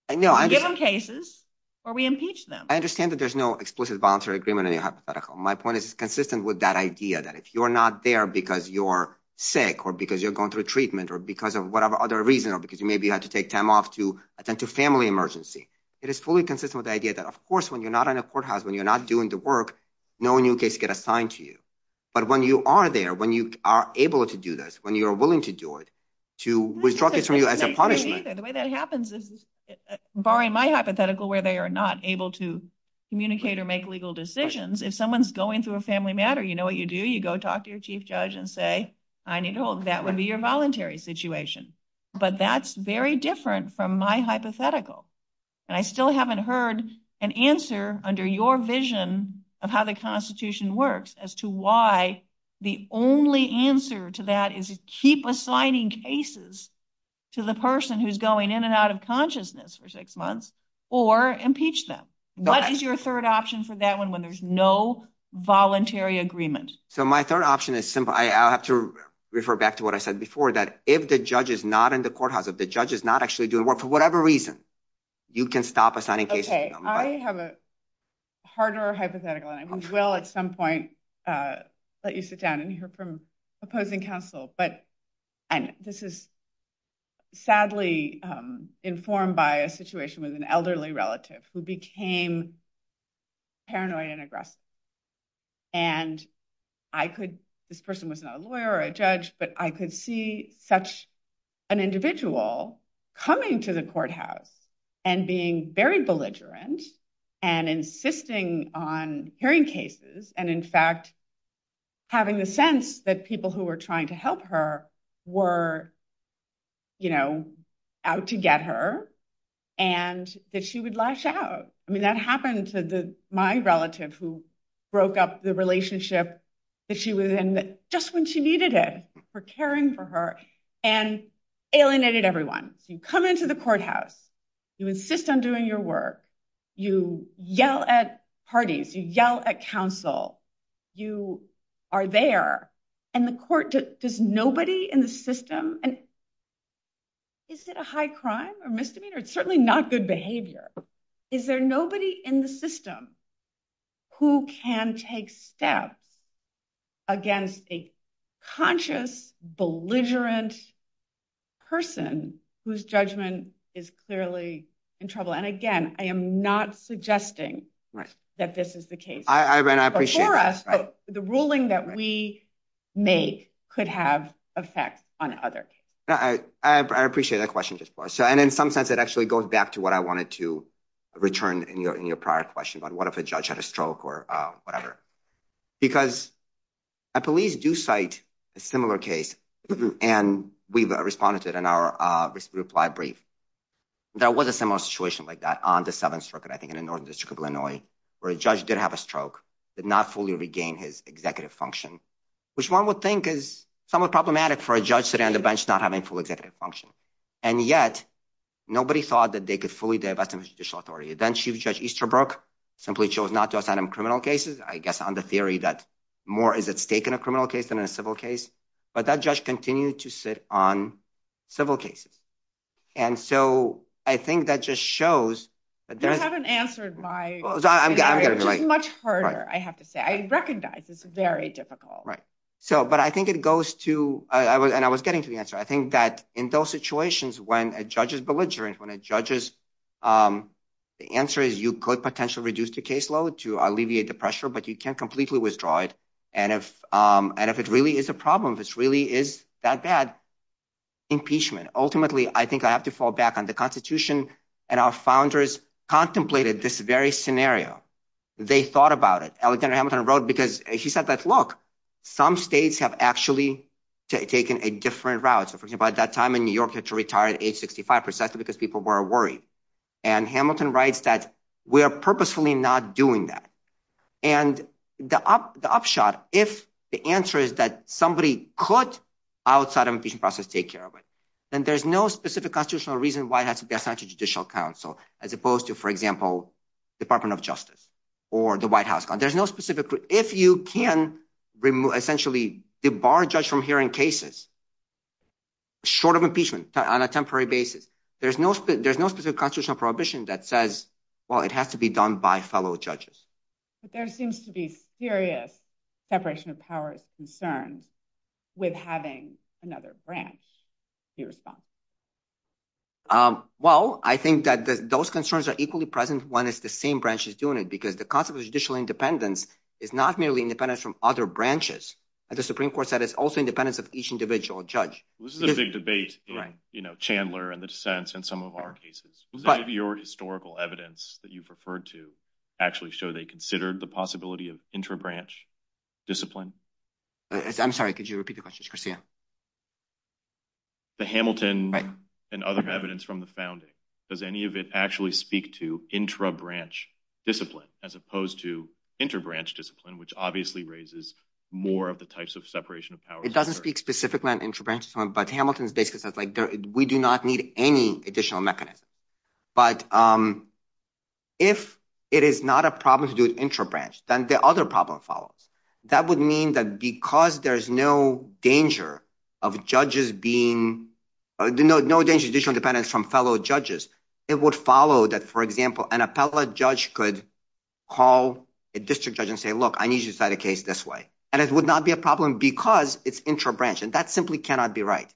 i know i get some cases or we impeach them i understand that there's no explicit voluntary agreement in your hypothetical my point is consistent with that idea that if you're not there because you're sick or because you're going through treatment or because of whatever other reason or because you maybe have to take time off to attend to family emergency it is fully consistent with the idea that of course when you're not in a courthouse when you're not doing the work no new case get assigned to you but when you are there when you are able to do this when you are willing to do it to withdraw this from you as a punishment the way that happens is barring my hypothetical where they are not able to communicate or make legal decisions if someone's going through a family matter you know what you do you go talk to your chief judge and say i need to hold that would be your voluntary situation but that's very different from my hypothetical and i still haven't heard an answer under your vision of how the constitution works as to why the only answer to that is to keep assigning cases to the person who's going in and out of consciousness for six months or impeach them what is your third option for that one when there's no voluntary agreement so my third option is simple i have to refer back to what i said before that if the judge is not in the courthouse if the judge is not actually doing work for a reason you can stop assigning cases okay i have a harder hypothetical i will at some point uh let you sit down and hear from opposing counsel but and this is sadly um informed by a situation with an elderly relative who became paranoid and aggressive and i could this person was not a lawyer a judge but i could see such an individual coming to the courthouse and being very belligerent and insisting on hearing cases and in fact having the sense that people who were trying to help her were you know out to get her and that she would lash out i mean that happened to the my relative who broke up the relationship that she was in just when she needed it for caring for her and alienated everyone you come into the courthouse you insist on doing your work you yell at parties you yell at counsel you are there and the court does nobody in the system and is it a high crime or misdemeanor it's certainly not good behavior is there nobody in the system who can take steps against a conscious belligerent person whose judgment is clearly in trouble and again i am not suggesting that this is the case the ruling that we make could have effect on others i i appreciate that question just for and in some sense it actually goes back to what i wanted to return in your prior question but what if a judge had a stroke or uh whatever because i police do cite a similar case and we've responded in our uh reply brief there was a similar situation like that on the seventh circuit i think in the northern district of illinois where a judge did have a stroke did not fully regain his executive function which one would think is somewhat problematic for a judge sitting on the bench not having full executive function and yet nobody thought that they could fully develop some judicial authority then chief judge easterbrook simply chose not to assign him criminal cases i guess on the theory that more is at stake in a criminal case than a civil case but that judge continued to sit on civil cases and so i think that just shows that they haven't answered my much harder i have to say i recognize it's very difficult right so but i think it goes to i was and i was getting to the answer i think that in those situations when a judge is belligerent when it judges um the answer is you could potentially reduce the caseload to alleviate the pressure but you can't completely withdraw it and if um and if it really is a problem this really is that bad impeachment ultimately i think i have to fall back on the constitution and our founders contemplated this very scenario they thought about it alexander hamilton wrote because he said that look some states have actually taken a different route so for example at that time in new york had to retire at age 65 percent because people were worried and hamilton writes that we are purposefully not doing that and the up the upshot if the answer is that somebody could outside of the process take care of it then there's no specific constitutional reason why it has to be assigned to judicial counsel as opposed to for example department of justice or the white house there's no specific if you can remove essentially debar judge from hearing cases short of impeachment on a temporary basis there's no there's no specific constitutional prohibition that says well it has to be done by fellow judges but there seems to be serious separation of powers concerns with having another branch be responsible um well i think that those are equally present one is the same branch is doing it because the concept of judicial independence is not merely independent from other branches and the supreme court said it's also independent of each individual judge this is a big debate right you know chandler and the dissents and some of our cases but your historical evidence that you've referred to actually show they considered the possibility of inter-branch discipline i'm sorry could you repeat the question yeah the hamilton and other evidence from the founding does any of it actually speak to intra-branch discipline as opposed to inter-branch discipline which obviously raises more of the types of separation of powers it doesn't speak specifically on inter-branch but hamilton's basis that's like we do not need any additional mechanism but um if it is not a problem to do intra-branch then the other problem follows that would mean that because there's no danger of judges being no no additional dependence from fellow judges it would follow that for example an appellate judge could call a district judge and say look i need you to decide a case this way and it would not be a problem because it's intra-branch and that simply cannot be right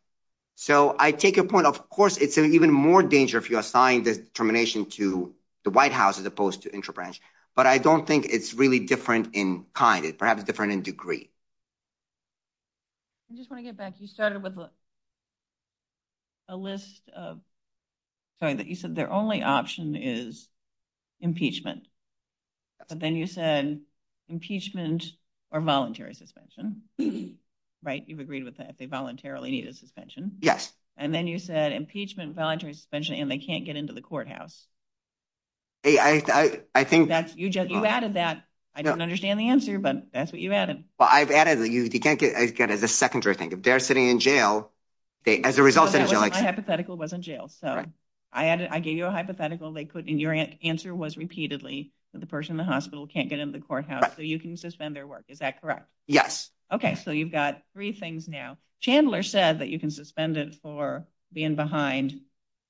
so i take a point of course it's an even more danger if you assign the termination to the white house as opposed to intra-branch but i don't think it's really different in kind it's perhaps different in degree i just want to get back you started with a list of sorry that you said their only option is impeachment but then you said impeachment or voluntary suspension right you've agreed with that they voluntarily need a suspension yes and then you said impeachment voluntary suspension and they can't get into the courthouse hey i i think that's you just you added that i don't understand the answer but that's what you added well i've added that you can't get as good as a secondary thing if they're sitting in jail they as a result my hypothetical wasn't jail so i added i gave you a hypothetical they put in your answer was repeatedly that the person in the hospital can't get into the courthouse so you can suspend their work is that correct yes okay so you've got three things now chandler said that you can suspend it for being behind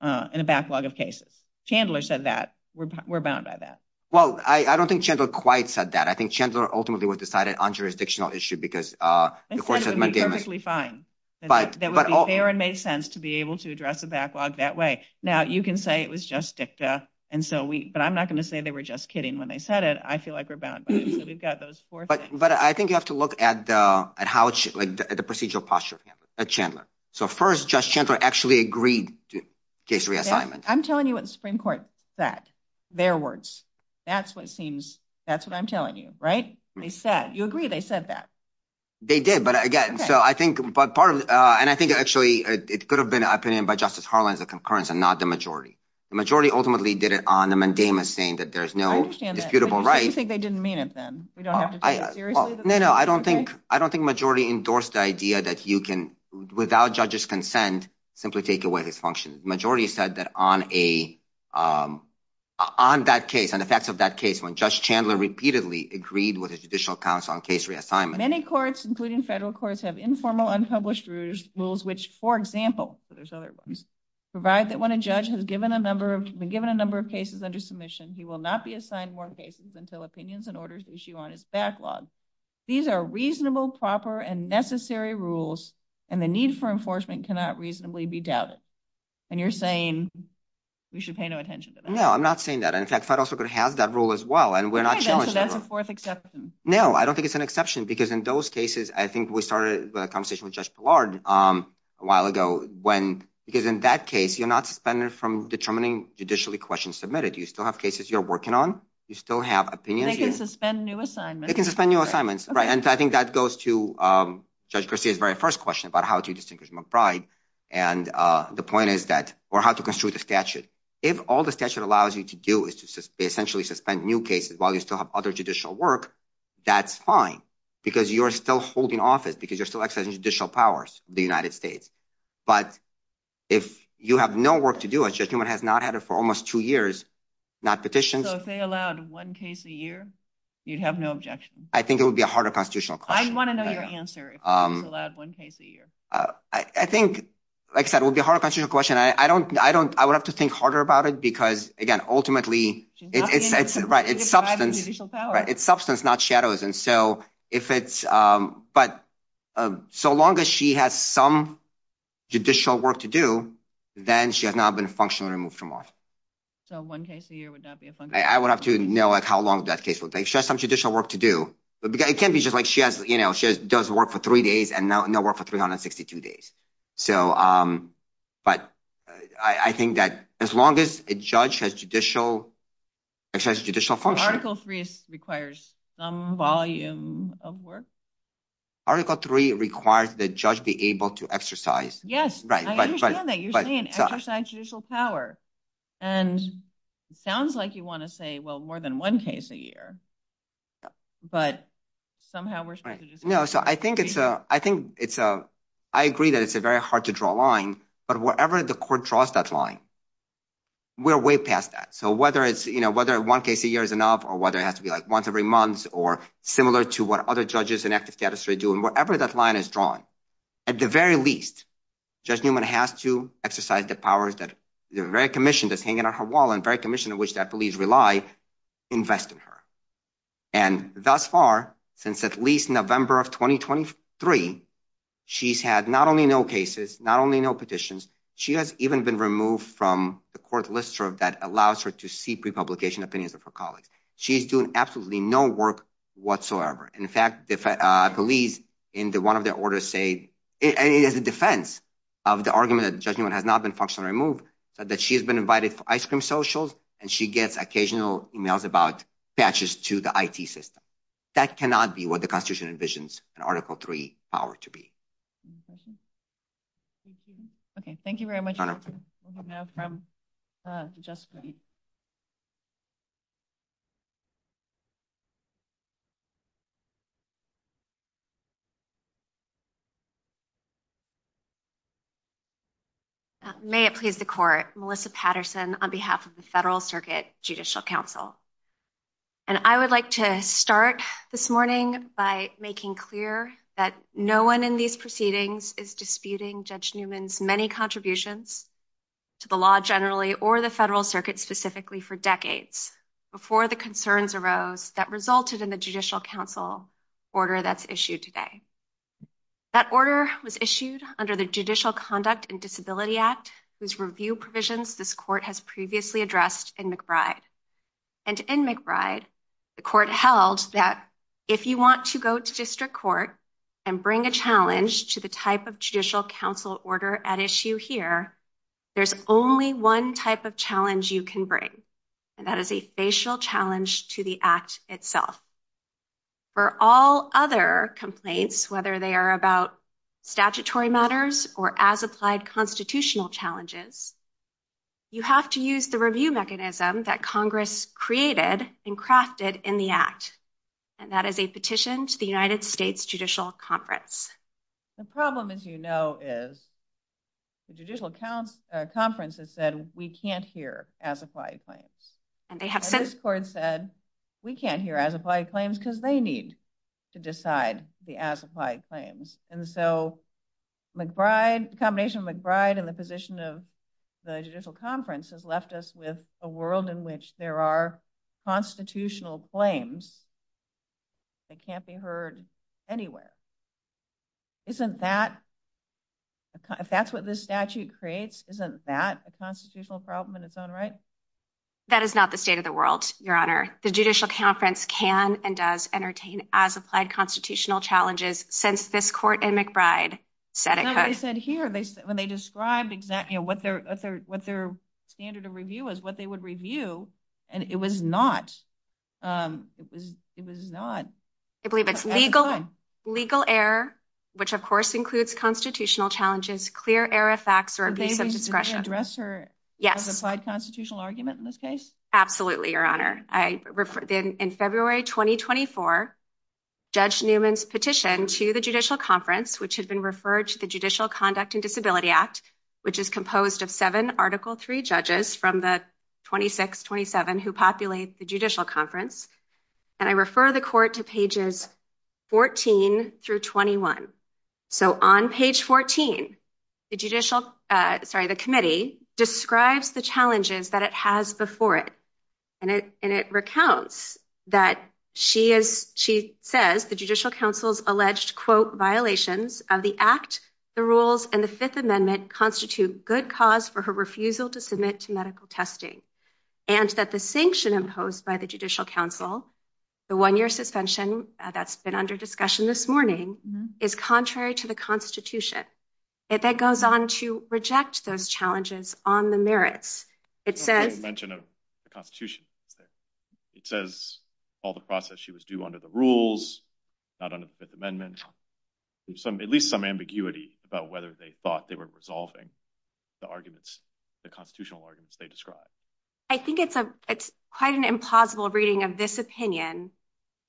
uh in a backlog of cases chandler said that we're bound by that well i i don't think chandler quite said that i think chandler ultimately was decided on jurisdictional issue because uh of course it's perfectly fine but they would be there and made sense to be able to address the backlog that way now you can say it was just dicta and so we but i'm not going to say they were just kidding when they said it i feel like we're bound but we've got those four things but i think you have to look at uh at how it's like the procedural posture at chandler so first josh chandler actually agreed to case reassignments i'm telling you what the supreme court said their words that's what seems that's what i'm telling you right they said you agree they said that they did but again so i think but part of uh and i think actually it could have been an opinion by justice harland as a concurrence and not the majority the majority ultimately did it on the mandamus saying that there's no beautiful right you think they didn't mean it then we don't have to say it no no i don't think i don't think majority endorsed the idea that you can without judges consent simply take away this function majority said that on a um on that case and the facts of that case when judge chandler repeatedly agreed with his judicial powers on case reassignment many courts including federal courts have informal unpublished rules which for example there's other ones provide that when a judge has given a number of been given a number of cases under submission he will not be assigned more cases until opinions and orders issue on its backlog these are reasonable proper and necessary rules and the need for enforcement cannot reasonably be doubted and you're saying we should pay no attention to that no i'm not saying that in fact i'm also going to have that rule as well and we're not sure that's a fourth exception no i don't think it's an exception because in those cases i think we started with a conversation with judge ballard um a while ago when because in that case you're not suspended from determining judicially questions submitted you still have cases you're working on you still have opinions they can suspend new assignments they can suspend new assignments right and i think that goes to um judge christie's very first question about how to distinguish from a bribe and uh the point is that or how to construe the statute if all the statute allows you to do is to essentially suspend new cases while you still have other judicial work that's fine because you're still holding office because you're still exercising judicial powers the united states but if you have no work to do a judgment has not had it for almost two years not petitions so if they allowed one case a year you'd have no objection i think it would be a harder constitutional question i want another answer um allowed one case a year uh i think like i said it would be hard question i don't i don't i would have to think harder about it because again ultimately it's right it's substance right it's substance not shadows and so if it's um but um so long as she has some judicial work to do then she has not been functionally removed from office so one case a year would not be a function i would have to know like how long that case would take she has some judicial work to do but it can't be just like she has you know she does work for three days and now no work for 362 days so um but i i think that as long as a judge has judicial exercise judicial function article three requires some volume of work article three requires the judge be able to exercise yes right i understand that you're exercising judicial power and it sounds like you want to say well more than one case a year but somehow we're right no so i think it's a i think it's a i agree that it's a very hard to draw a line but wherever the court draws that line we're way past that so whether it's you know whether one case a year is enough or whether it has to be like once every month or similar to what other judges in ethics cadastra do and wherever that line is drawn at the very least judge newman has to exercise the powers that the very commission that's hanging on her wall and very commission in which that police rely invest in her and thus far since at least november of 2023 she's had not only no cases not only no petitions she has even been removed from the court list that allows her to see pre-publication opinions of her colleagues she's doing absolutely no work whatsoever in fact if i believe in the one of the orders say it is a defense of the argument that judgment has not been functionally removed but that she has been invited for ice cream socials and she gets occasional emails about patches to the i.t system that cannot be what the constitution envisions an article three power to be okay thank you very much you may it please the court melissa patterson on behalf of the federal circuit judicial council and i would like to start this morning by making clear that no one in these proceedings is disputing judge newman's many contributions to the law generally or the federal circuit specifically for decades before the concerns arose that resulted in the judicial council order that's issued today that order was issued under the judicial conduct and disability act whose review provisions this court has previously addressed in mcbride and in mcbride the court held that if you want to go to sister court and bring a challenge to the type of judicial council order at issue here there's only one type of challenge you can bring and that is a facial challenge to the act itself for all other complaints whether they are about statutory matters or as applied constitutional challenges you have to use the review mechanism that congress created and crafted in the act and that is a petition to the united states judicial conference the problem as you know is the judicial conferences said we can't hear as applied claims and they have this court said we can't hear as applied claims because they need to decide the as applied claims and so mcbride combination mcbride and the position of the judicial conference has left us with a world in which there are constitutional claims that can't be heard anywhere isn't that if that's what this statute creates isn't that a constitutional problem in its own right that is not the state of the world your honor the judicial conference can and does entertain as applied constitutional challenges since this court and mcbride said it said here they said described exactly what their what their standard of review is what they would review and it was not um it was not i believe it's legal legal error which of course includes constitutional challenges clear error of facts or a piece of discretion yes constitutional argument in this case absolutely your honor i referred in february 2024 judge newman's petition to the judicial conference which has been referred to the judicial conduct and disability act which is composed of seven article three judges from the 26 27 who populates the judicial conference and i refer the court to pages 14 through 21 so on page 14 the judicial uh sorry the committee describes the challenges that it has before it and it and it recounts that she is she says the judicial council's alleged violations of the act the rules and the fifth amendment constitute good cause for her refusal to submit to medical testing and that the sanction imposed by the judicial council the one-year suspension that's been under discussion this morning is contrary to the constitution if that goes on to reject those challenges on the merits it says mention of at least some ambiguity about whether they thought they were resolving the arguments the constitutional arguments they described i think it's a it's quite an impossible reading of this opinion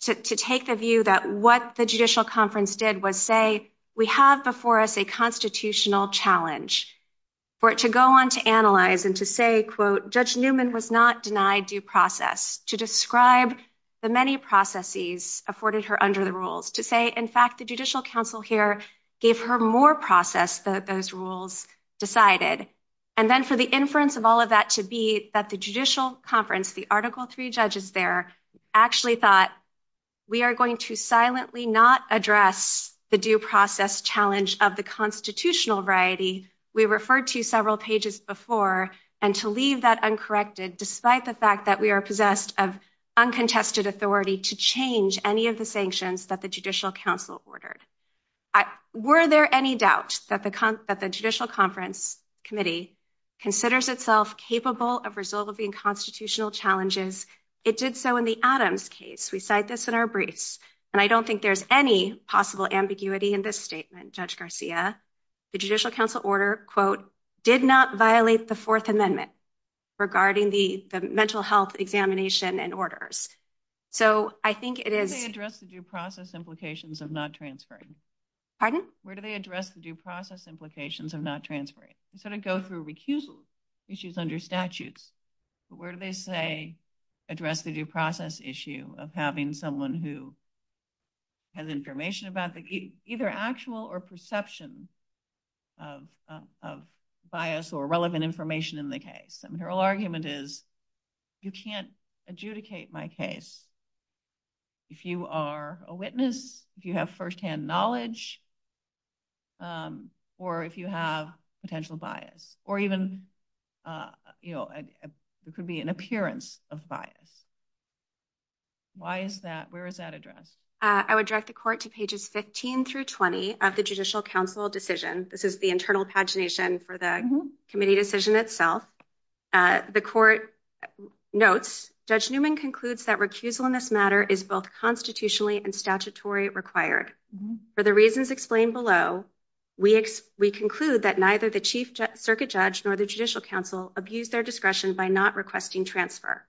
to take the view that what the judicial conference did was say we have before us a constitutional challenge for it to go on to analyze and to say quote judge newman was not denied due process to describe the many processes afforded her under the rules to say in fact the judicial council here gave her more process that those rules decided and then so the inference of all of that should be that the judicial conference the article three judges there actually thought we are going to silently not address the due process challenge of the constitutional variety we referred to several pages before and to leave that uncorrected despite the fact that we are of uncontested authority to change any of the sanctions that the judicial council ordered were there any doubt that the that the judicial conference committee considers itself capable of resolving constitutional challenges it did so in the adams case we cite this in our briefs and i don't think there's any possible ambiguity in this statement judge garcia the judicial council order quote did not violate the fourth amendment regarding the mental health examination and orders so i think it is addressed the due process implications of not transferring pardon where do they address the due process implications of not transferring instead of go through recusal which is under statute but where do they say address the due process issue of having someone who has information about the either actual or perception of of bias or relevant information in the case i mean her whole argument is you can't adjudicate my case if you are a witness if you have first-hand knowledge or if you have potential bias or even uh you know it could be an appearance of bias why is that where is that address i would direct the court to pages 15 through 20 of the judicial council decision this is the internal pagination for the committee decision itself uh the court notes judge newman concludes that recusal in this matter is both constitutionally and statutory required for the reasons explained below we we conclude that neither the chief circuit judge nor the judicial council abuse their discretion by not requesting transfer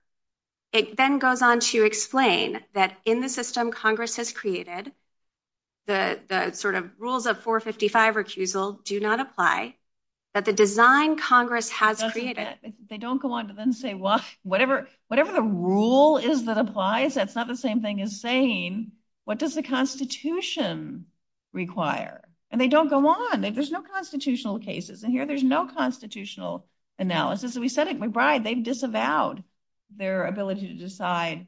it then goes on to explain that in the system congress has created the the sort of rules of 455 recusal do not apply that the design congress has created they don't go on to then say what whatever whatever the rule is that applies that's not the same thing as saying what does the constitution require and they don't go on there's no constitutional cases and here there's no constitutional analysis so we said at mcbride they've disavowed their ability to decide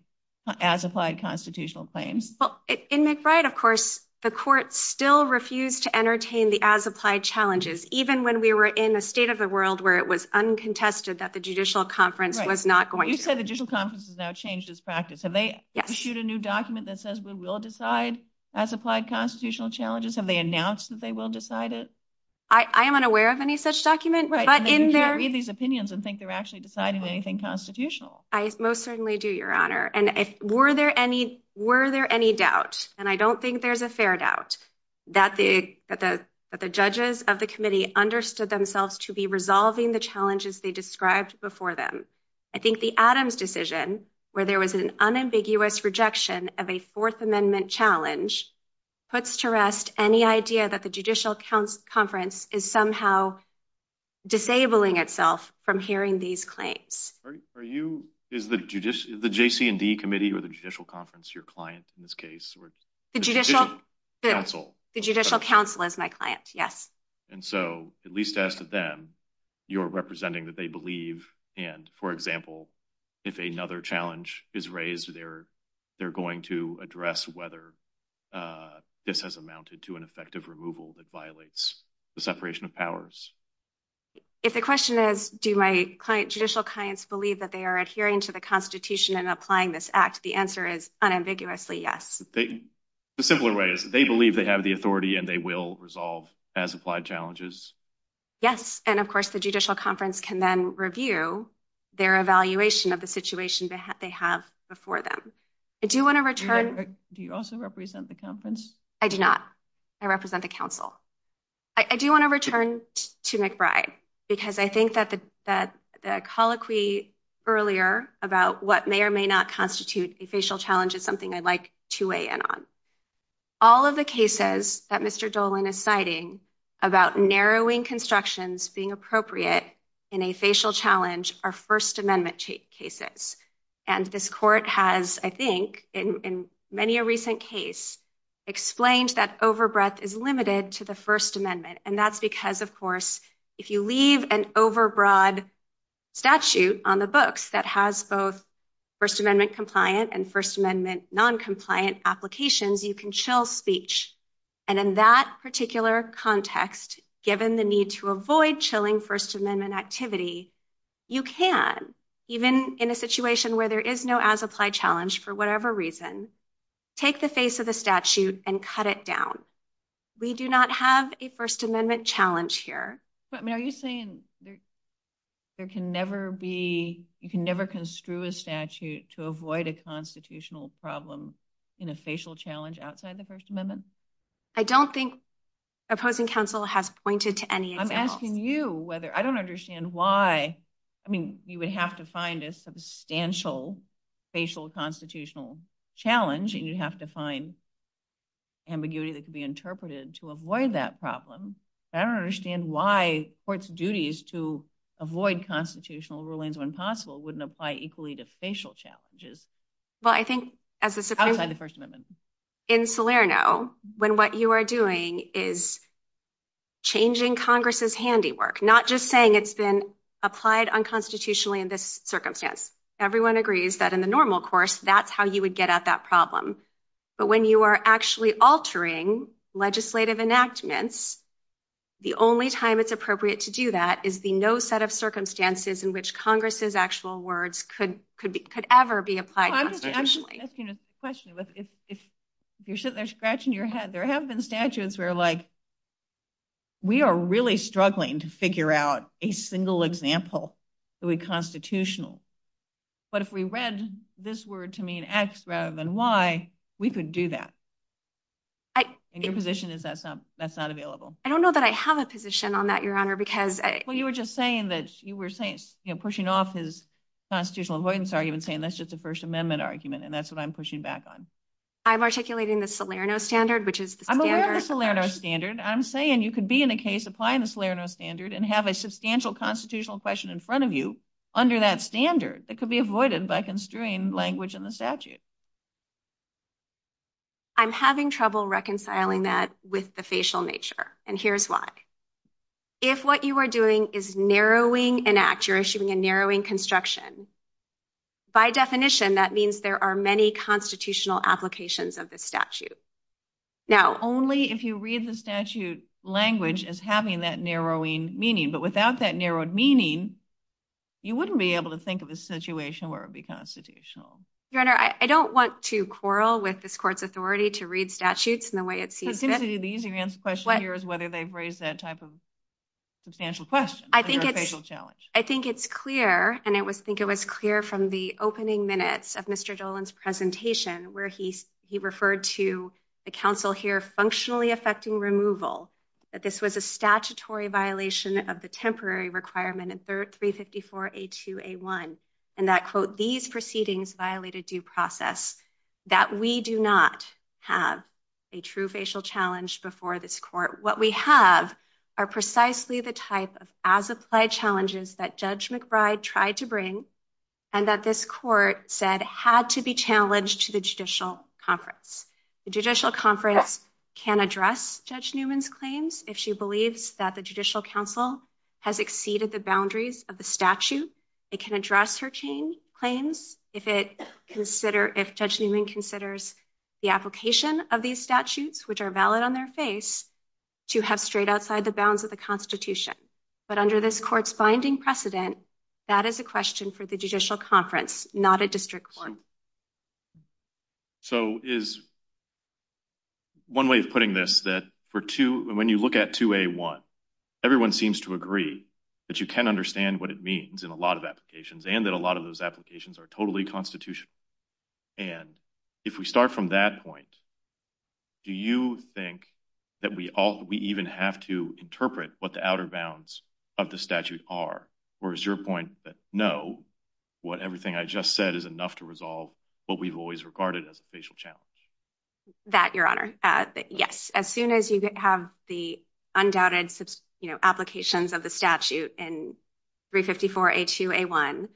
as applied constitutional claims well in mcbride of course the court still refused to entertain the as applied challenges even when we were in the state of the world where it was uncontested that the judicial conference was not going you said the judicial conference has now changed its practice have they issued a new document that says we will decide as applied constitutional challenges have they announced that they will decide it i i am unaware of any such document but in there read these opinions and think they're actually deciding anything constitutional i most certainly do your honor and if were there any were there any doubt and i don't think there's a fair doubt that the that the judges of the committee understood themselves to be resolving the challenges they described before them i think the adams decision where there was an unambiguous rejection of a fourth amendment challenge puts to rest any idea that the judicial conference is somehow disabling itself from hearing these claims are you is the judicious the jc and d committee or the judicial conference your client in this case or the judicial counsel the judicial counsel is my client yes and so at least ask them you're representing that they believe and for example if another challenge is raised they're they're going to address whether uh this has amounted to an effective removal that violates the separation of powers if the question is do my client judicial clients believe that they are adhering to the constitution and applying this act the answer is unambiguously yes they the simpler way is they believe they have the authority and they will resolve as applied challenges yes and of course the judicial conference can then review their evaluation of the situation that they have before them i do want to return do you also represent the conference i do not i represent the council i do want to return to mcbride because i think that the that the colloquy earlier about what may or may not constitute a facial challenge is something i'd like to weigh in on all of the cases that mr dolwyn is citing about narrowing constructions being appropriate in a facial challenge are first amendment cases and this court has i think in in many a recent case explained that overbreadth is limited to the first amendment and that's because of course if you leave an overbroad statute on the books that has both first amendment compliant and first amendment non-compliant applications you can chill speech and in that particular context given the need to avoid chilling first amendment activity you can even in a situation where there is no as applied challenge for whatever reason take the face of the statute and cut it down we do not have a first amendment challenge here but are you saying there can never be you can never construe a statute to avoid a constitutional problem in a facial challenge outside the first amendment i don't think opposing counsel have pointed to any i'm asking you whether i don't understand why i mean you would have to find a substantial facial constitutional challenge and you have to find ambiguity that could be interpreted to avoid that problem i don't understand why court's duties to avoid constitutional rulings when possible wouldn't apply equally to facial challenges well i think as the first amendment in salerno when what you are doing is changing congress's handiwork not just saying it's been applied unconstitutionally in this circumstance everyone agrees that in the normal course that's how you would get at that problem but when you are actually altering legislative enactments the only time it's appropriate to do that is the no set of circumstances in which congress's actual words could could be could ever be applied i'm just asking a question if if you shouldn't they're scratching your head there have been statutes where like we are really struggling to figure out a single example to be constitutional but if we read this word to mean x rather than y we could do that your position is that's not that's not available i don't know that i have a position on that your honor because well you were just saying that you were saying you know pushing off his constitutional avoidance argument saying that's just a first amendment argument and that's what i'm pushing back on i'm articulating the salerno standard which is i'm aware of the salerno standard i'm saying you could be in a case applying the salerno standard and have a substantial constitutional question in front of you under that standard that could be avoided by construing language in the statute i'm having trouble reconciling that with the facial nature and here's why if what you are doing is narrowing an act you're issuing a narrowing construction by definition that means there are many constitutional applications of the statute now only if you read the statute language as having that narrowing meaning but without that narrowed meaning you wouldn't be able to think of a situation where it'd be constitutional your honor i don't want to quarrel with this court's authority to read statutes in the way it seems the easy answer question here is whether they've raised that type of substantial question i think it's a challenge i think it's clear and i would think it was clear from the opening minutes of mr dolan's presentation where he he referred to the council here functionally affecting removal that this was a statutory violation of the temporary requirement and 354 a2 a1 and that quote these proceedings violate a due process that we do not have a true facial challenge before this court what we have are precisely the type of as applied challenges that judge mcbride tried to bring and that this court said had to be challenged to the judicial conference the judicial conference can address judge newman's claims if she believes that the judicial council has exceeded the boundaries of the statute it can address her chain claims if it consider if judge newman considers the application of these statutes which are valid on their face to have straight outside the bounds of the constitution but under this court's binding precedent that is a question for the judicial conference not a district one so is one way of putting this that for two when you look at 2a1 everyone seems to agree that you can understand what it means in a lot of applications and that a lot of those applications are totally constitutional and if we start from that point do you think that we all we even have to interpret what the outer bounds of the statute are or is your point that no what what everything i just said is enough to resolve what we've always regarded as a facial challenge that your honor uh yes as soon as you have the undoubted you know applications of the statute in 354a2a1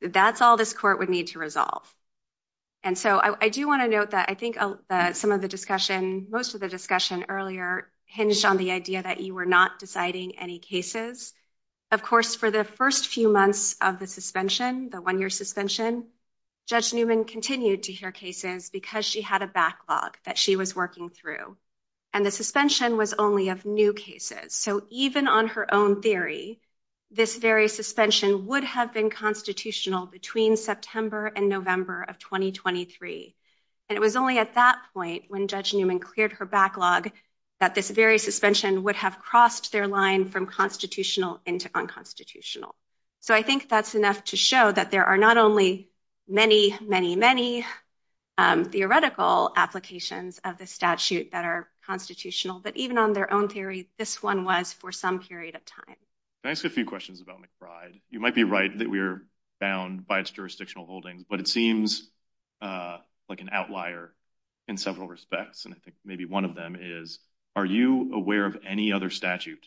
that's all this court would need to resolve and so i do want to note that i think some of the discussion most of the discussion earlier hinged on the idea that you were not deciding any cases of course for the first few months of the suspension the one-year suspension judge newman continued to hear cases because she had a backlog that she was working through and the suspension was only of new cases so even on her own theory this very suspension would have been constitutional between september and november of 2023 and it was only at that when judge newman cleared her backlog that this very suspension would have crossed their line from constitutional into unconstitutional so i think that's enough to show that there are not only many many many um theoretical applications of the statute that are constitutional but even on their own theories this one was for some period of time thanks a few questions about mcbride you might be right that we are bound by its jurisdictional holding but it seems uh like an outlier in several respects and i think maybe one of them is are you aware of any other statute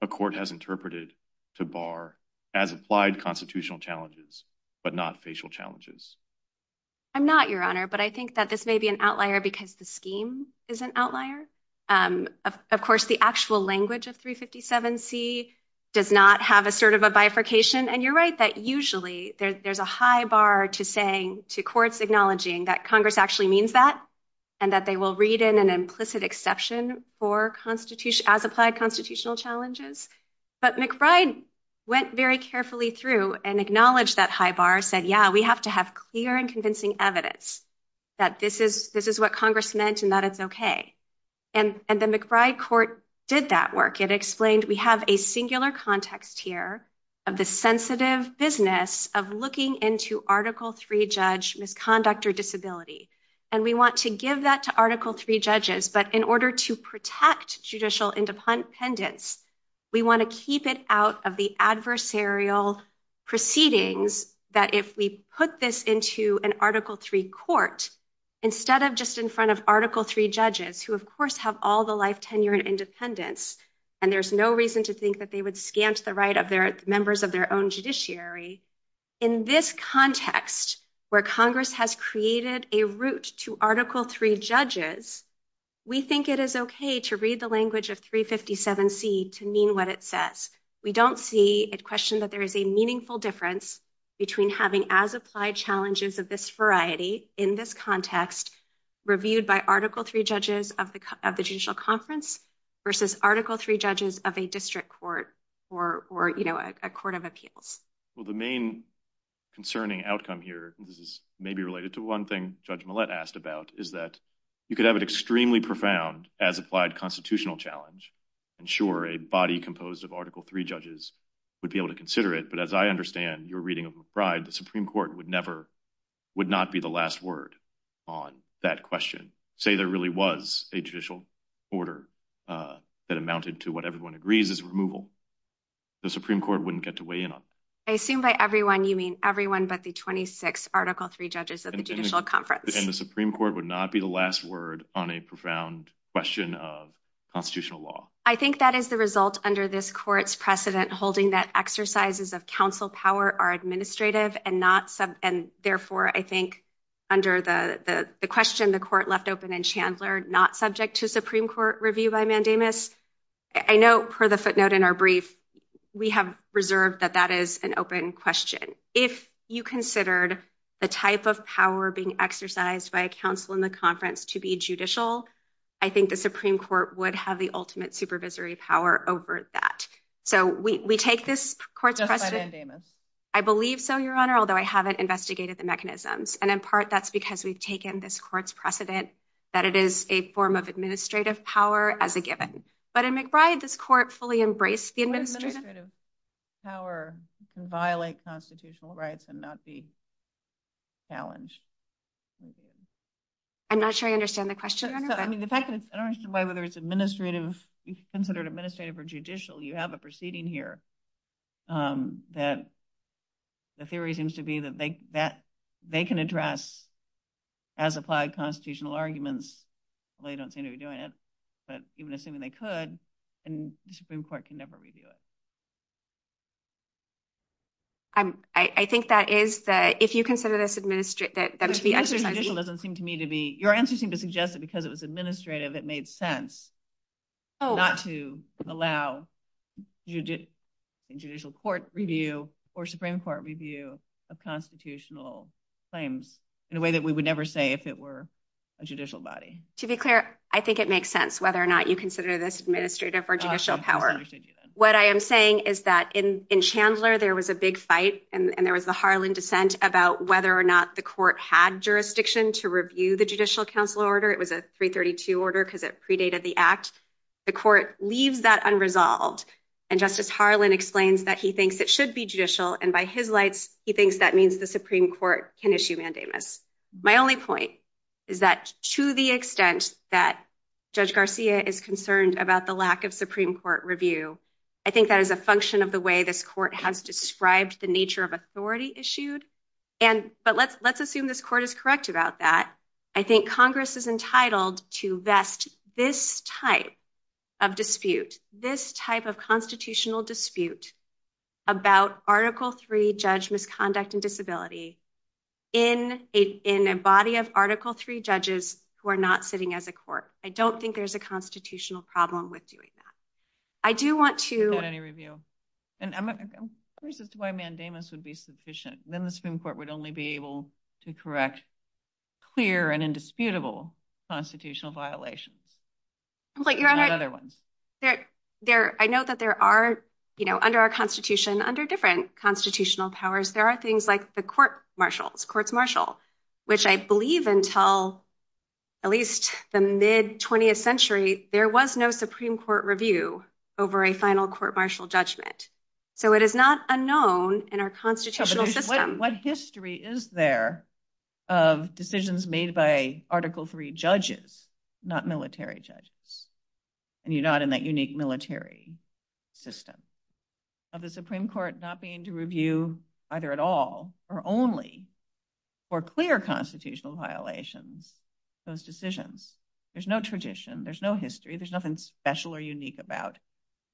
the court has interpreted to bar as applied constitutional challenges but not facial challenges i'm not your honor but i think that this may be an outlier because the scheme is an outlier um of course the actual language of 357c does not have a sort of a bifurcation and you're right that usually there's a high bar to saying to courts acknowledging that congress actually means that and that they will read in an implicit exception for constitution as applied constitutional challenges but mcbride went very carefully through and acknowledged that high bar said yeah we have to have clear and convincing evidence that this is this is what congress meant and that it's okay and and the mcbride court did that work it explained we have a singular context here of the sensitive business of looking into article three judge misconduct or disability and we want to give that to article three judges but in order to protect judicial independence we want to keep it out of the adversarial proceedings that if we put this into an article three court instead of just in front of article three judges who of course have all the life and independence and there's no reason to think that they would scant the right of their members of their own judiciary in this context where congress has created a route to article three judges we think it is okay to read the language of 357c to mean what it says we don't see it questioned that there is a meaningful difference between having as applied challenges of this variety in this context reviewed by article three judges of the judicial conference versus article three judges of a district court or or you know a court of appeals well the main concerning outcome here this is maybe related to one thing judge millet asked about is that you could have an extremely profound as applied constitutional challenge and sure a body composed of article three judges would be able to consider it but as i understand your reading of mcbride the supreme court would never would not be the last word on that question say there really was a judicial order uh that amounted to what everyone agrees is removal the supreme court wouldn't get to weigh in on i assume by everyone you mean everyone but the 26 article three judges of the judicial conference and the supreme court would not be the last word on a profound question of constitutional law i think that is the result under this court's precedent holding that exercises of council power are administrative and not some and therefore i think under the the question the court left open and chandler not subject to supreme court review by mandamus i know per the footnote in our brief we have reserved that that is an open question if you considered the type of power being exercised by a council in the conference to be judicial i think the supreme court would have the ultimate supervisory power over that so we take this court i believe so your honor although i haven't investigated the mechanisms and in part that's because we've taken this court's precedent that it is a form of administrative power as a given but in mcbride this court fully embraced the administrative power can violate constitutional rights and not be challenged i'm not sure i understand the question i mean the fact that i don't understand why whether it's administrative you considered administrative or judicial you have a proceeding here um that the theory seems to be that they that they can address as applied constitutional arguments they don't seem to be doing it but even assuming they could and the supreme court can never review it um i i think that is that if you consider this administrate that that is the answer doesn't seem to me to be your answers seem to suggest that because it was administrative it made sense not to allow judicial court review or supreme court review of constitutional claims in a way that we would never say if it were a judicial body to be clear i think it makes sense whether or not you consider this administrative or judicial power what i am saying is that in in chandler there was a big fight and there was a harlan dissent about whether or not the court had jurisdiction to review the judicial council order it was a 332 order because it predated the act the court leaves that unresolved and justice harlan explains that he thinks it should be judicial and by his lights he thinks that means the supreme court can issue mandatements my only point is that to the extent that judge garcia is concerned about the lack of supreme court review i think that is a function of the way this court has described the nature of authority issued and but let's let's assume this court is correct about that i think congress is entitled to vest this type of dispute this type of constitutional dispute about article three judge misconduct and disability in a in a body of article three judges who are not sitting as a court i don't think there's a constitutional problem with doing that i do want to get any review and of course that's would be sufficient then the supreme court would only be able to correct clear and indisputable constitutional violations but you're right there i know that there are you know under our constitution under different constitutional powers there are things like the court marshals courts marshal which i believe until at least the mid-20th century there was no supreme court review over a final court martial judgment so it is not unknown in our constitutional system what history is there of decisions made by article three judges not military judges and you're not in that unique military system of the supreme court not being to review either at all or only for clear constitutional violations those decisions there's no tradition there's no history there's nothing special or unique about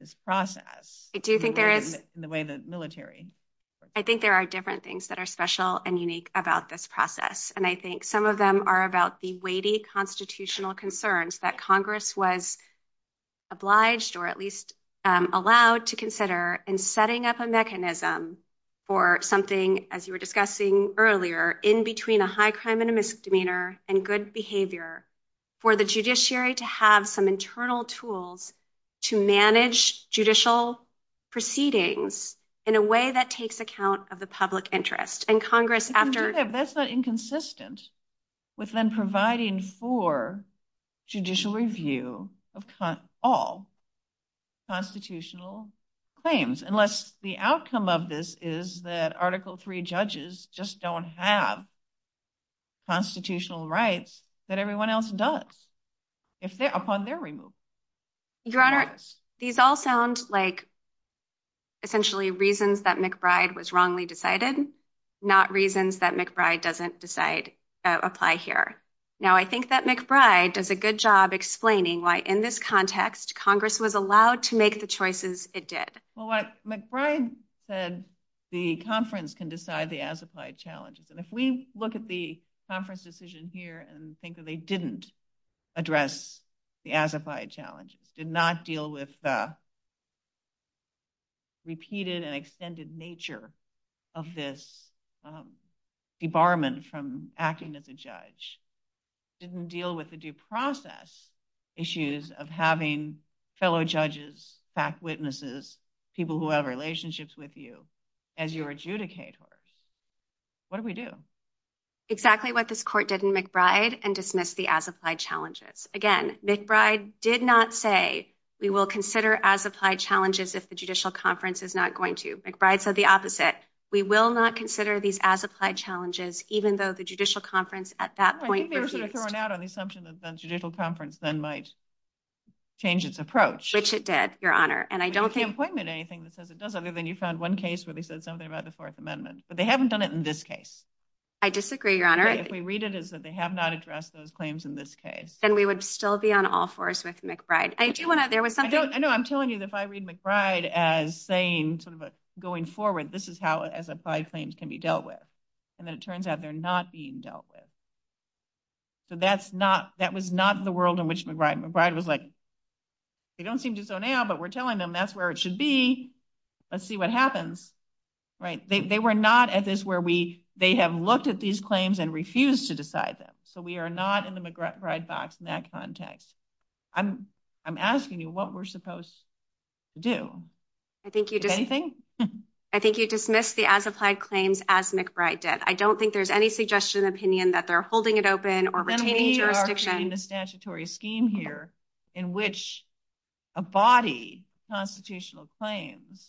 this process i do think there is the way the military i think there are different things that are special and unique about this process and i think some of them are about the weighty constitutional concerns that congress was obliged or at least allowed to consider in setting up a mechanism for something as you were discussing earlier in between a high crime and a misdemeanor and good behavior for the judiciary to have some internal tools to manage judicial proceedings in a way that takes account of the public interest and congress after that's the inconsistence with then providing for judicial review of all constitutional claims unless the outcome of this is that article three judges just don't have constitutional rights that everyone else does if they're upon their removal your honor these all sound like essentially reasons that mcbride was wrongly decided not reasons that mcbride doesn't decide that apply here now i think that mcbride does a good job explaining why in this context congress was allowed to make the well what mcbride said the conference can decide the as applied challenges and if we look at the conference decision here and think that they didn't address the as applied challenge did not deal with the repeated and extended nature of this debarment from acting as a judge didn't deal with the due process issues of having fellow judges fact witnesses people who have relationships with you as your adjudicators what do we do exactly what this court did in mcbride and dismissed the as applied challenges again mcbride did not say we will consider as applied challenges if the judicial conference is not going to mcbride said the opposite we will not consider these as applied challenges even though the judicial conference at that point i think they were sort of thrown out on the assumption that the judicial conference then might change its approach which it did your honor and i don't think pointed anything that says it doesn't mean you found one case where they said something about the fourth amendment but they haven't done it in this case i disagree your honor if we read it is that they have not addressed those claims in this case then we would still be on all fours with mcbride i do want to there was something i know i'm telling you if i read mcbride as saying sort of going forward this is how as claims can be dealt with and then it turns out they're not being dealt with so that's not that was not the world in which mcbride was like they don't seem to so now but we're telling them that's where it should be let's see what happens right they were not at this where we they have looked at these claims and refused to decide them so we are not in the mcbride box in that context i'm i'm asking you what we're supposed to do i think you do anything i think you dismissed the as applied claims as mcbride did i don't think there's any suggestion opinion that they're holding it open or retaining the statutory scheme here in which a body constitutional claims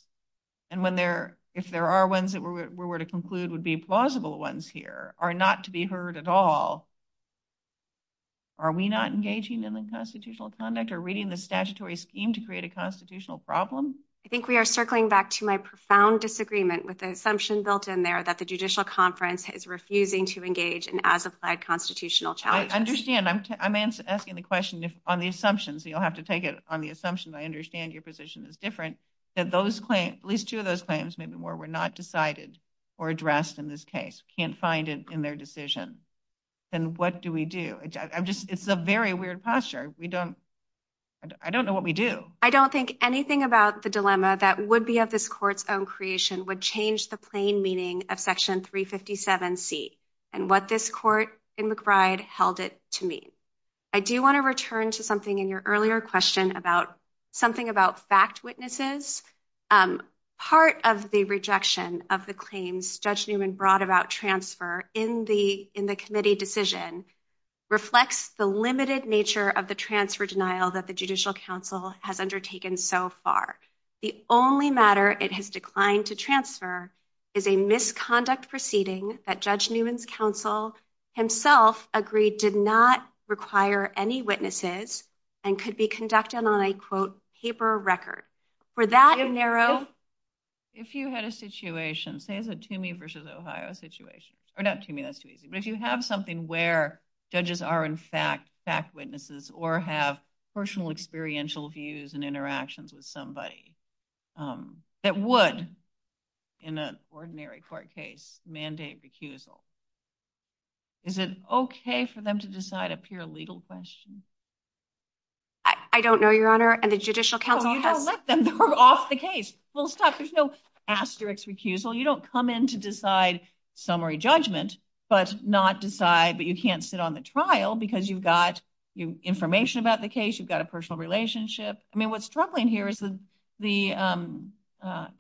and when there if there are ones that we were to conclude would be plausible ones here are not to be heard at all are we not engaging in the constitutional conduct or reading the statutory scheme to create a constitutional problem i think we are circling back to my profound disagreement with the assumption built in there that the judicial conference is refusing to engage in as applied constitutional challenge i understand i'm i'm asking the question on the assumptions you'll have to take it on the assumptions i understand your position is different that those claims at least two of those claims maybe more were not decided or addressed in this case can't find it in their decision then what do we do i'm just it's a very weird posture we don't i don't know what we do i don't think anything about the dilemma that would be of this court's creation would change the plain meaning of section 357c and what this court in mcbride held it to mean i do want to return to something in your earlier question about something about fact witnesses um part of the rejection of the claims judge newman brought about transfer in the in the committee decision reflects the limited nature of the transfer denial that the judicial council has undertaken so far the only matter it has declined to transfer is a misconduct proceeding that judge newman's council himself agreed did not require any witnesses and could be conducted on a quote paper record for that in narrow if you had a situation say the to me versus ohio situation or not to me that's too easy but if you have something where judges are in fact witnesses or have personal experiential views and interactions with somebody that would in an ordinary court case mandate recusal is it okay for them to decide a pure legal question i don't know your honor and the judicial council you don't let them off the case well stop there's no asterix recusal you don't come in to decide summary judgment but not decide but you can't sit on the trial because you've got your information about the case you've got a personal relationship i mean what's struggling here is the the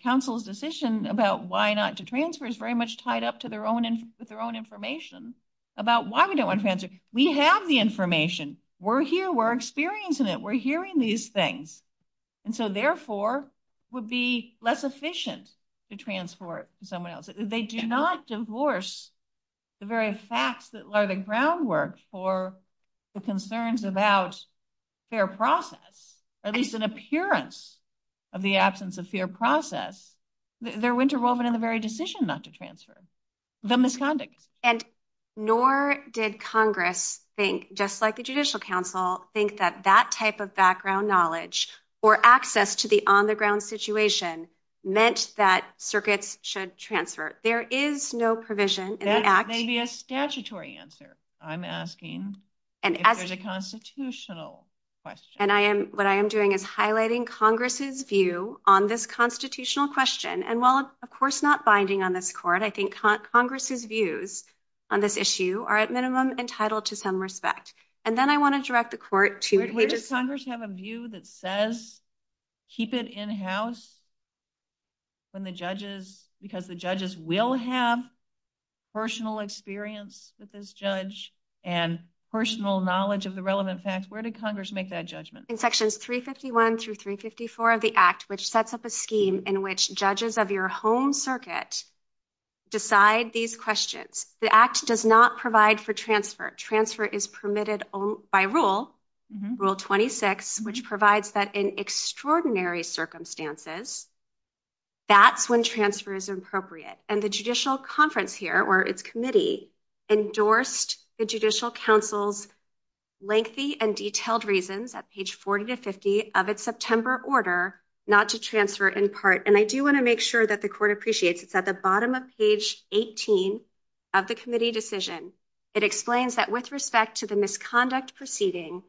council's decision about why not to transfer is very much tied up to their own with their own information about why we don't want to we have the information we're here we're experiencing it we're hearing these things and so therefore would be less efficient to transport someone else they do not divorce the very facts that are the groundwork for the concerns about their process at least an appearance of the absence of fear process they're winter woven in the very decision not to transfer the misconduct and nor did congress think just like the judicial council think that that type of background knowledge or access to the on the ground situation meant that circuits should transfer there is no provision there may be a statutory answer i'm asking and there's a constitutional question and i am what i am doing is highlighting congress's view on this constitutional question and while of course not binding on this court i think congress's views on this issue are at minimum entitled to some respect and then i want to direct the court to where does congress have a view that says keep it in house when the judges because the judges will have personal experience with this judge and personal knowledge of the relevant facts where did congress make that judgment in sections 351 through 354 of the act which sets up a scheme in which judges of your home circuit decide these questions the act does not provide for transfer transfer is permitted by rule rule 26 which provides that in extraordinary circumstances that's when transfer is appropriate and the judicial conference here or its committee endorsed the judicial council's lengthy and detailed reasons at page 40 to 50 of its september order not to transfer in part and i do want to make sure that the court appreciates it's at the bottom of page 18 of the committee decision it explains that with respect to the misconduct proceeding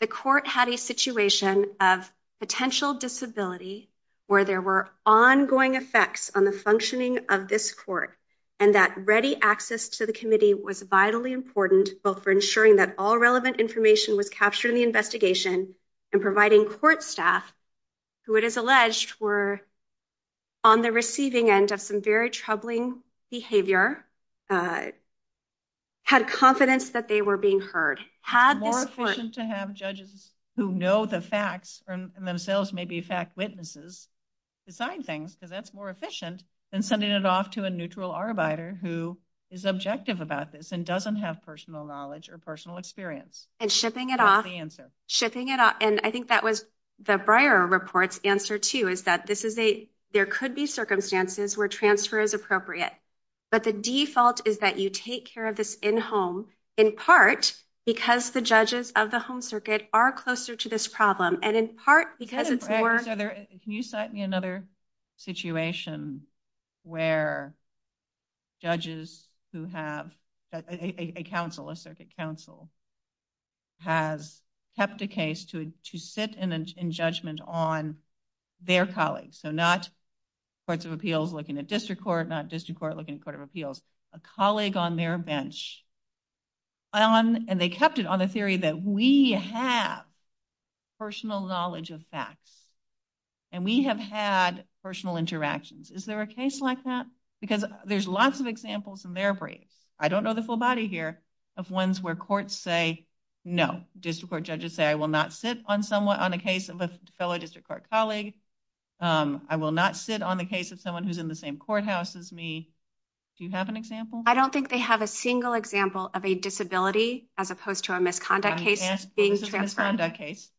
the court had a situation of potential disability where there were ongoing effects on the functioning of this court and that ready access to the committee was vitally important both for ensuring that all relevant information was captured in the investigation and providing court staff who it is alleged were on the receiving end of some very troubling behavior uh had confidence that they were being heard had more efficient to have judges who know the facts and themselves may be fact witnesses to sign things so that's more efficient than sending it off to a neutral arbiter who is objective about this and doesn't have personal knowledge or personal experience and shipping it off shipping it up and i think that was the briar report's answer too is that this is a there could be circumstances where transfer is appropriate but the default is that you take care of this in home in part because the judges of the home circuit are closer to this problem and in part because it's work can you cite me another situation where judges who have a council a circuit council has kept a case to to sit in judgment on their colleagues so not courts of appeals looking at court not district court looking at court of appeals a colleague on their bench on and they kept it on the theory that we have personal knowledge of facts and we have had personal interactions is there a case like that because there's lots of examples in their brain i don't know the full body here of ones where courts say no district court judges say i will not sit on someone on the case of a fellow district court colleague um i will not sit on the case of someone who's in the same courthouse as me do you have an example i don't think they have a single example of a disability as opposed to a misconduct case being transformed that case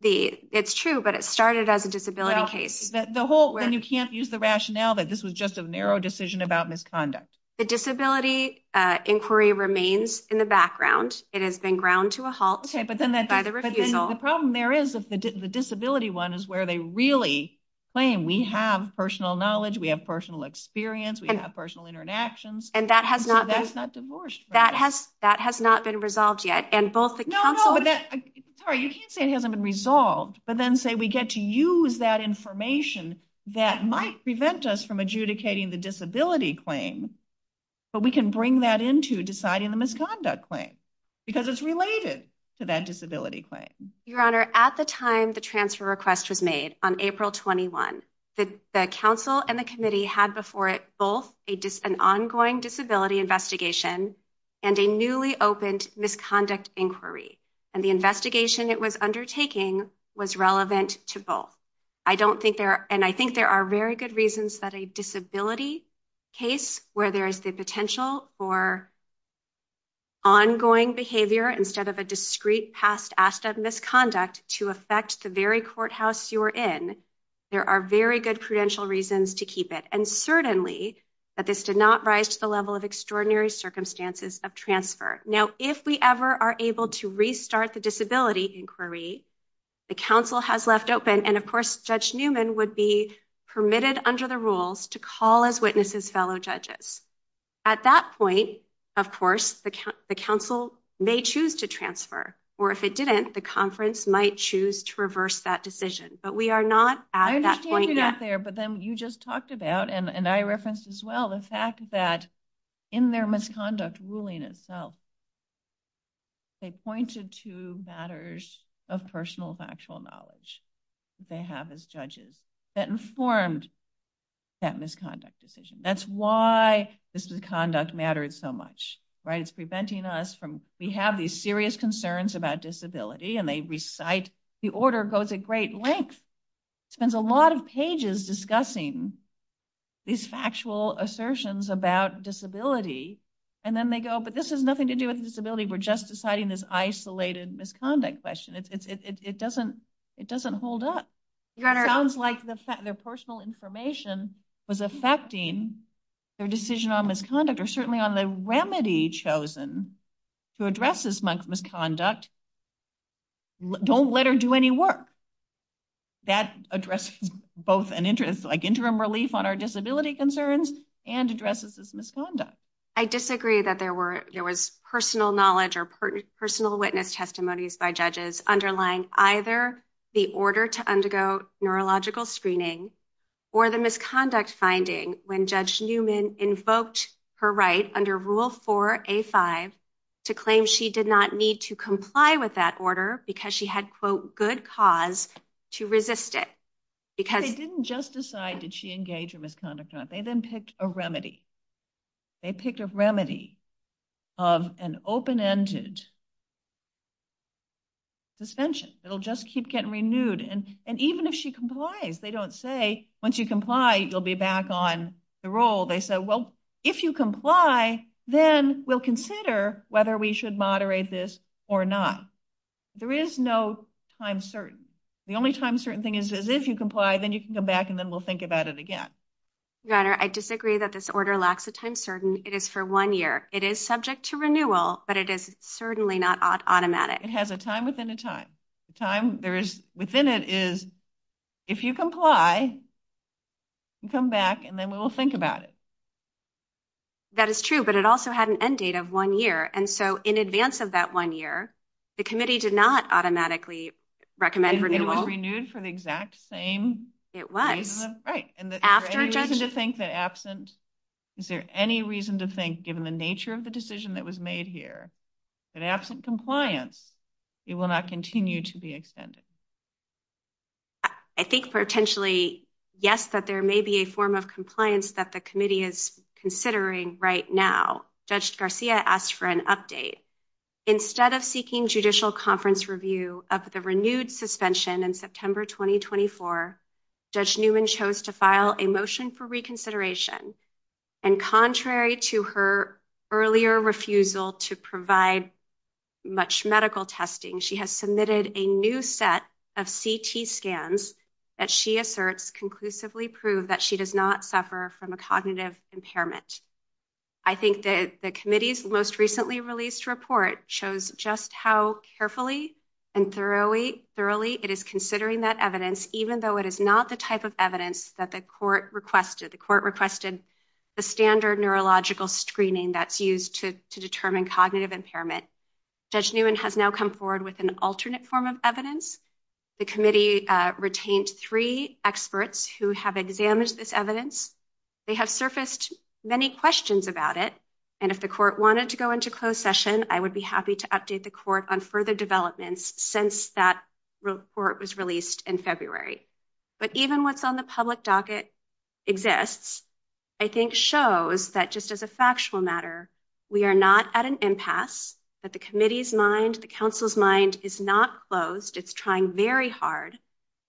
the it's true but it started as a disability case the whole when you can't use the rationale that this was just a narrow decision about misconduct the disability uh inquiry remains in the background it has been ground to a halt okay but then the problem there is if the disability one is where they really claim we have personal knowledge we have personal experience we have personal interactions and that has not that's not divorced that has that has not been resolved yet and both no no sorry you can't say it hasn't been resolved but then say we get to use that information that might prevent us from adjudicating the disability claim but we can bring that into deciding the misconduct claim because it's related to that disability claim your honor at the time the transfer request was made on april 21 the council and the committee had before it both a dis an ongoing disability investigation and a newly opened misconduct inquiry and the investigation it was undertaking was relevant to both i don't think there and i think there are very good reasons that a disability case where there is the potential for ongoing behavior instead of a discreet past asked of misconduct to affect the very courthouse you were in there are very good prudential reasons to keep it and certainly but this did not rise to the level of extraordinary circumstances of transfer now if we ever are able to restart the disability inquiry the council has left open and of course judge newman would be permitted under the rules to call as witnesses fellow judges at that point of course the council may choose to transfer or if it didn't the conference might choose to reverse that decision but we are not at that point there but then you just talked about and and i referenced as well the fact that in their misconduct ruling itself they pointed to matters of personal factual knowledge they have as judges that informed that misconduct decision that's why this is conduct matters so much right it's preventing us from we have these serious concerns about disability and they recite the order goes at great length spends a lot of pages discussing these factual assertions about disability and then they go but this has nothing to do with disability we're just deciding this isolated misconduct question it's it's it doesn't it doesn't hold up your honor sounds like the fact their personal information was affecting their decision on misconduct or certainly on the remedy chosen to address this month misconduct don't let her do any work that addressed both an interest like interim relief on our disability concerns and addresses this misconduct i disagree that there were there was personal knowledge or personal witness testimonies by judges underlying either the order to undergo neurological screening or the misconduct finding when judge newman invoked her right under rule 4a5 to claim she did not need to comply with that order because she had quote good cause to resist it because they didn't just decide that she engaged in of an open-ended suspension it'll just keep getting renewed and and even if she complies they don't say once you comply you'll be back on the roll they said well if you comply then we'll consider whether we should moderate this or not there is no time certain the only time certain thing is is if you comply then you can come back and then we'll think about it again your honor i disagree that this order lacks a time certain it is for one year it is subject to renewal but it is certainly not automatic it has a time within a time the time there is within it is if you comply you come back and then we will think about it that is true but it also had an end date of one year and so in advance of that one year the committee did not automatically recommend renewal renewed for the exact same it was right and the reason to think that absent is there any reason to think given the nature of the decision that was made here that absent compliance it will not continue to be extended i think potentially yes that there may be a form of compliance that the committee is considering right now judge garcia asked for an instead of seeking judicial conference review of the renewed suspension in september 2024 judge newman chose to file a motion for reconsideration and contrary to her earlier refusal to provide much medical testing she has submitted a new set of ct scans that she asserts conclusively prove that she does not suffer from a cognitive impairment i think that the committee's most recently released report shows just how carefully and thoroughly thoroughly it is considering that evidence even though it is not the type of evidence that the court requested the court requested the standard neurological screening that's used to to determine cognitive impairment judge newman has now come forward with an alternate form of evidence the committee retained three experts who have examined this evidence they have surfaced many questions about it and if the court wanted to go into closed session i would be happy to update the court on further developments since that report was released in february but even what's on the public docket exists i think shows that just as a factual matter we are not at an impasse that the committee's mind the council's mind is not closed it's trying very hard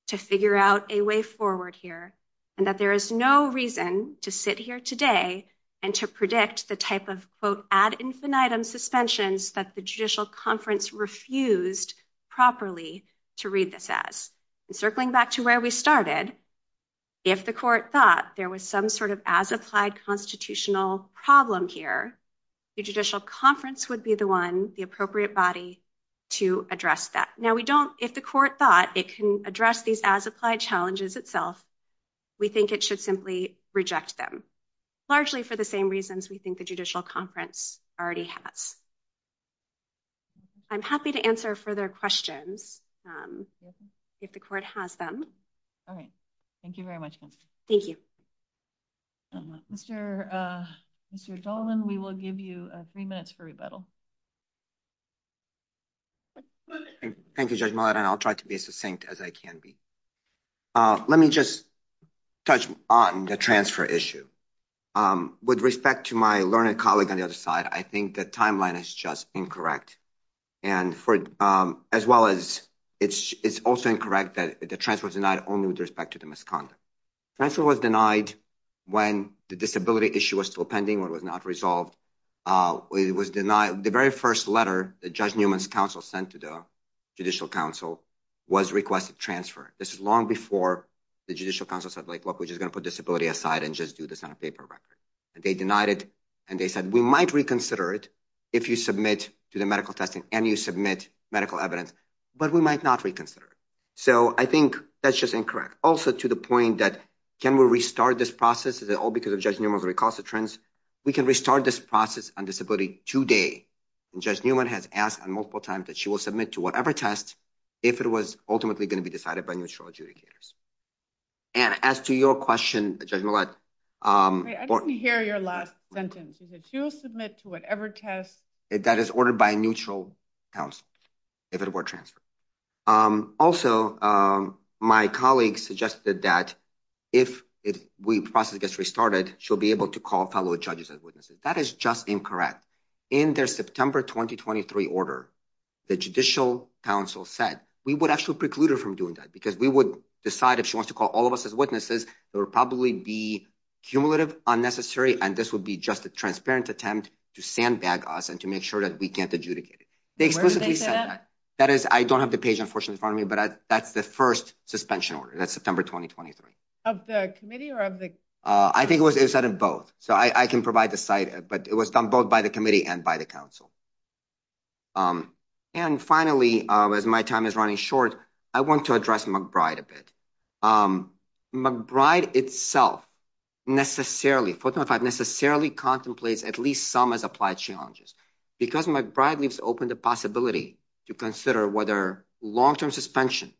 to figure out a way forward here and that there is no reason to sit here today and to predict the type of quote ad infinitum suspensions that the judicial conference refused properly to read this as circling back to where we started if the court thought there was some sort of as applied constitutional problem here the judicial conference would be the one the appropriate body to address that now we don't if the court thought it can address these as applied challenges itself we think it should simply reject them largely for the same reasons we think the judicial conference already has i'm happy to answer further questions um if the court has them all right thank you very much thank you um mr uh mr dolvin we will give you three minutes for rebuttal okay thank you judge mullet and i'll try to be as succinct as i can be uh let me just touch on the transfer issue um with respect to my learned colleague on the other side i think the timeline is just incorrect and for um as well as it's it's also incorrect that the transfer was denied only with respect to the misconduct transfer was denied when the disability issue was still pending or was not resolved uh it was denied the very first letter that judge newman's counsel sent to the judicial council was requested transfer this is long before the judicial council said like look we're just going to put disability aside and just do this on a paper record and they denied it and they said we might reconsider it if you submit to the medical testing and you submit medical evidence but we might not reconsider it so i think that's just incorrect also to the point that can we restart this process is it all because of recalcitrance we can restart this process on disability today and judge newman has asked on multiple times that she will submit to whatever test if it was ultimately going to be decided by neutral adjudicators and as to your question judge mullet um i didn't hear your last sentence is it she will submit to whatever test that is ordered by a neutral house if it were um also um my colleague suggested that if if we process gets restarted she'll be able to call public judges as witnesses that is just incorrect in their september 2023 order the judicial council said we would actually preclude her from doing that because we would decide if she wants to call all of us as witnesses there would probably be cumulative unnecessary and this would be just a transparent attempt to sandbag us and to make sure that we can't adjudicate it that is i don't have the page unfortunately in front of me but that's the first suspension order that's september 2023 of the committee or of the uh i think it was inside of both so i i can provide the site but it was done both by the committee and by the council um and finally uh as my time is running short i want to address mcbride a bit um mcbride itself necessarily 45 necessarily contemplates at least some as applied challenges because mcbride leaves open the possibility to consider whether long-term suspension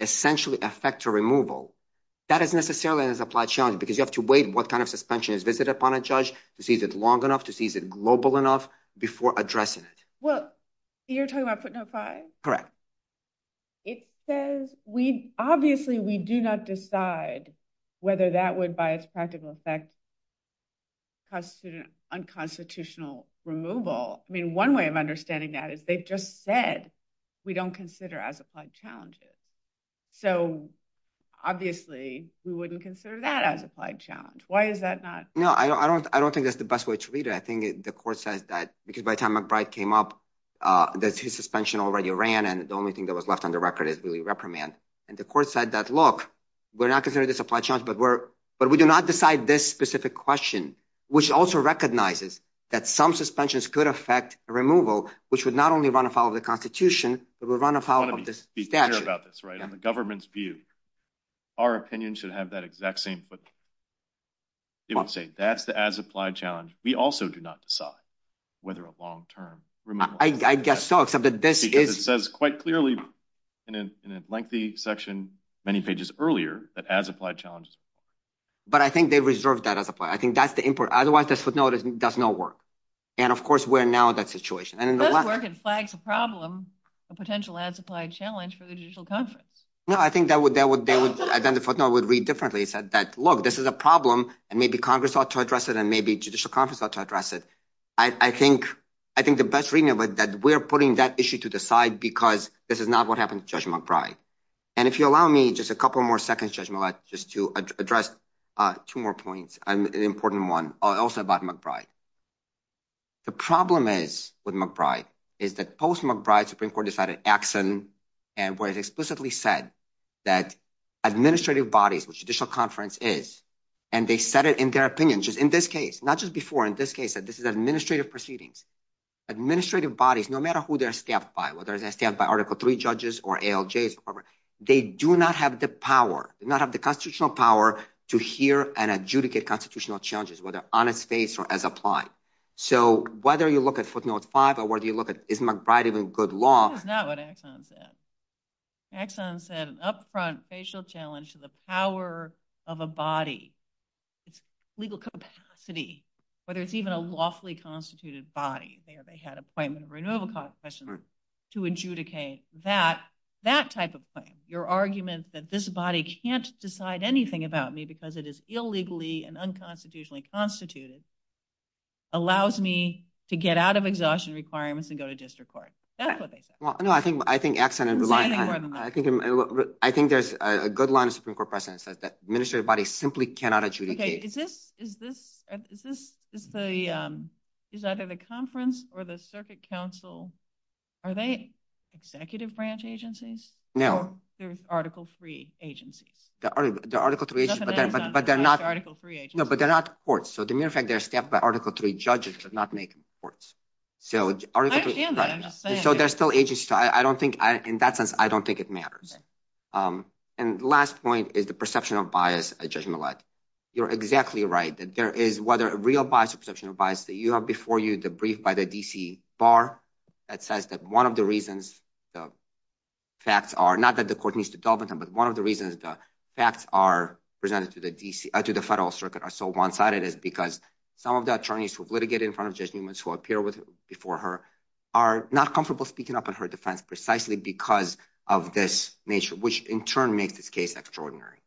essentially affect a removal that is necessarily an applied challenge because you have to wait what kind of suspension is visited upon a judge to see is it long enough to see is it global enough before addressing it well you're talking about put no five correct it says we obviously we do not decide whether that would by its practical effect constitute an unconstitutional removal i mean one way of understanding that if they just said we don't consider as applied challenges so obviously we wouldn't consider that as applied challenge why is that not no i don't i don't think that's the best way to read it i think the court said that because by the time mcbride came up uh the two suspension already ran and the only thing that was left on the record is really reprimand and the court said that look we're not but we're but we do not decide this specific question which also recognizes that some suspensions could affect removal which would not only run afoul of the constitution but would run afoul of this about this right in the government's view our opinion should have that exact same but you would say that's the as applied challenge we also do not decide whether a long-term removal i guess so except that this is it says quite clearly in a lengthy section many pages earlier that as applied challenges but i think they reserved that as a point i think that's the input otherwise this would notice does not work and of course we're now that situation and it flags a problem a potential as applied challenge for the judicial conference no i think that would that would then the footnote would read differently said that look this is a problem and maybe congress ought to address it and maybe judicial conference ought to address it i i think i think the best reading of it that we're putting that issue to the side because this is not what happens judge mcbride and if you allow me just a couple more seconds judgment just to address uh two more points an important one also about mcbride the problem is with mcbride is that post mcbride supreme court decided axon and was explicitly said that administrative bodies which judicial conference is and they said it in their opinion just in this case not just before in this case that this is administrative proceedings administrative bodies no matter who they're whether they stand by article three judges or aljs they do not have the power not have the constitutional power to hear and adjudicate constitutional challenges whether on a face or as applied so whether you look at footnote five or whether you look at is mcbride even good law axon said upfront facial challenge to the power of a body legal capacity but it's even a lawfully constituted body there they had appointment renewal cost questions to adjudicate that that type of thing your argument that this body can't decide anything about me because it is illegally and unconstitutionally constituted allows me to get out of exhaustion requirements and go to district court that's what they said well no i think i think absent a lot i think i think there's a good line of supreme court precedent that administrative bodies simply cannot adjudicate is this is this is this is the um is either the conference or the circuit council are they executive branch agencies no there's article three agency the article three but they're not article three no but they're not courts so the mere fact they're stepped by article three judges does not make them courts so so there's still agency so i don't think i in that sense i don't think it matters um and last point is the perception of bias a judgment like you're exactly right that there is whether a real bias perception of bias that you have before you debriefed by the dc bar that says that one of the reasons the facts are not that the court needs to delve into but one of the reasons the facts are presented to the dc to the federal circuit are so one-sided is because some of the attorneys who've litigated in front of just humans who appear with before her are not comfortable speaking up in her defense precisely because of this nature which in turn makes this case extraordinary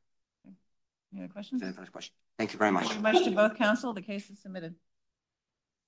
any questions questions thank you very much both counsel the case is submitted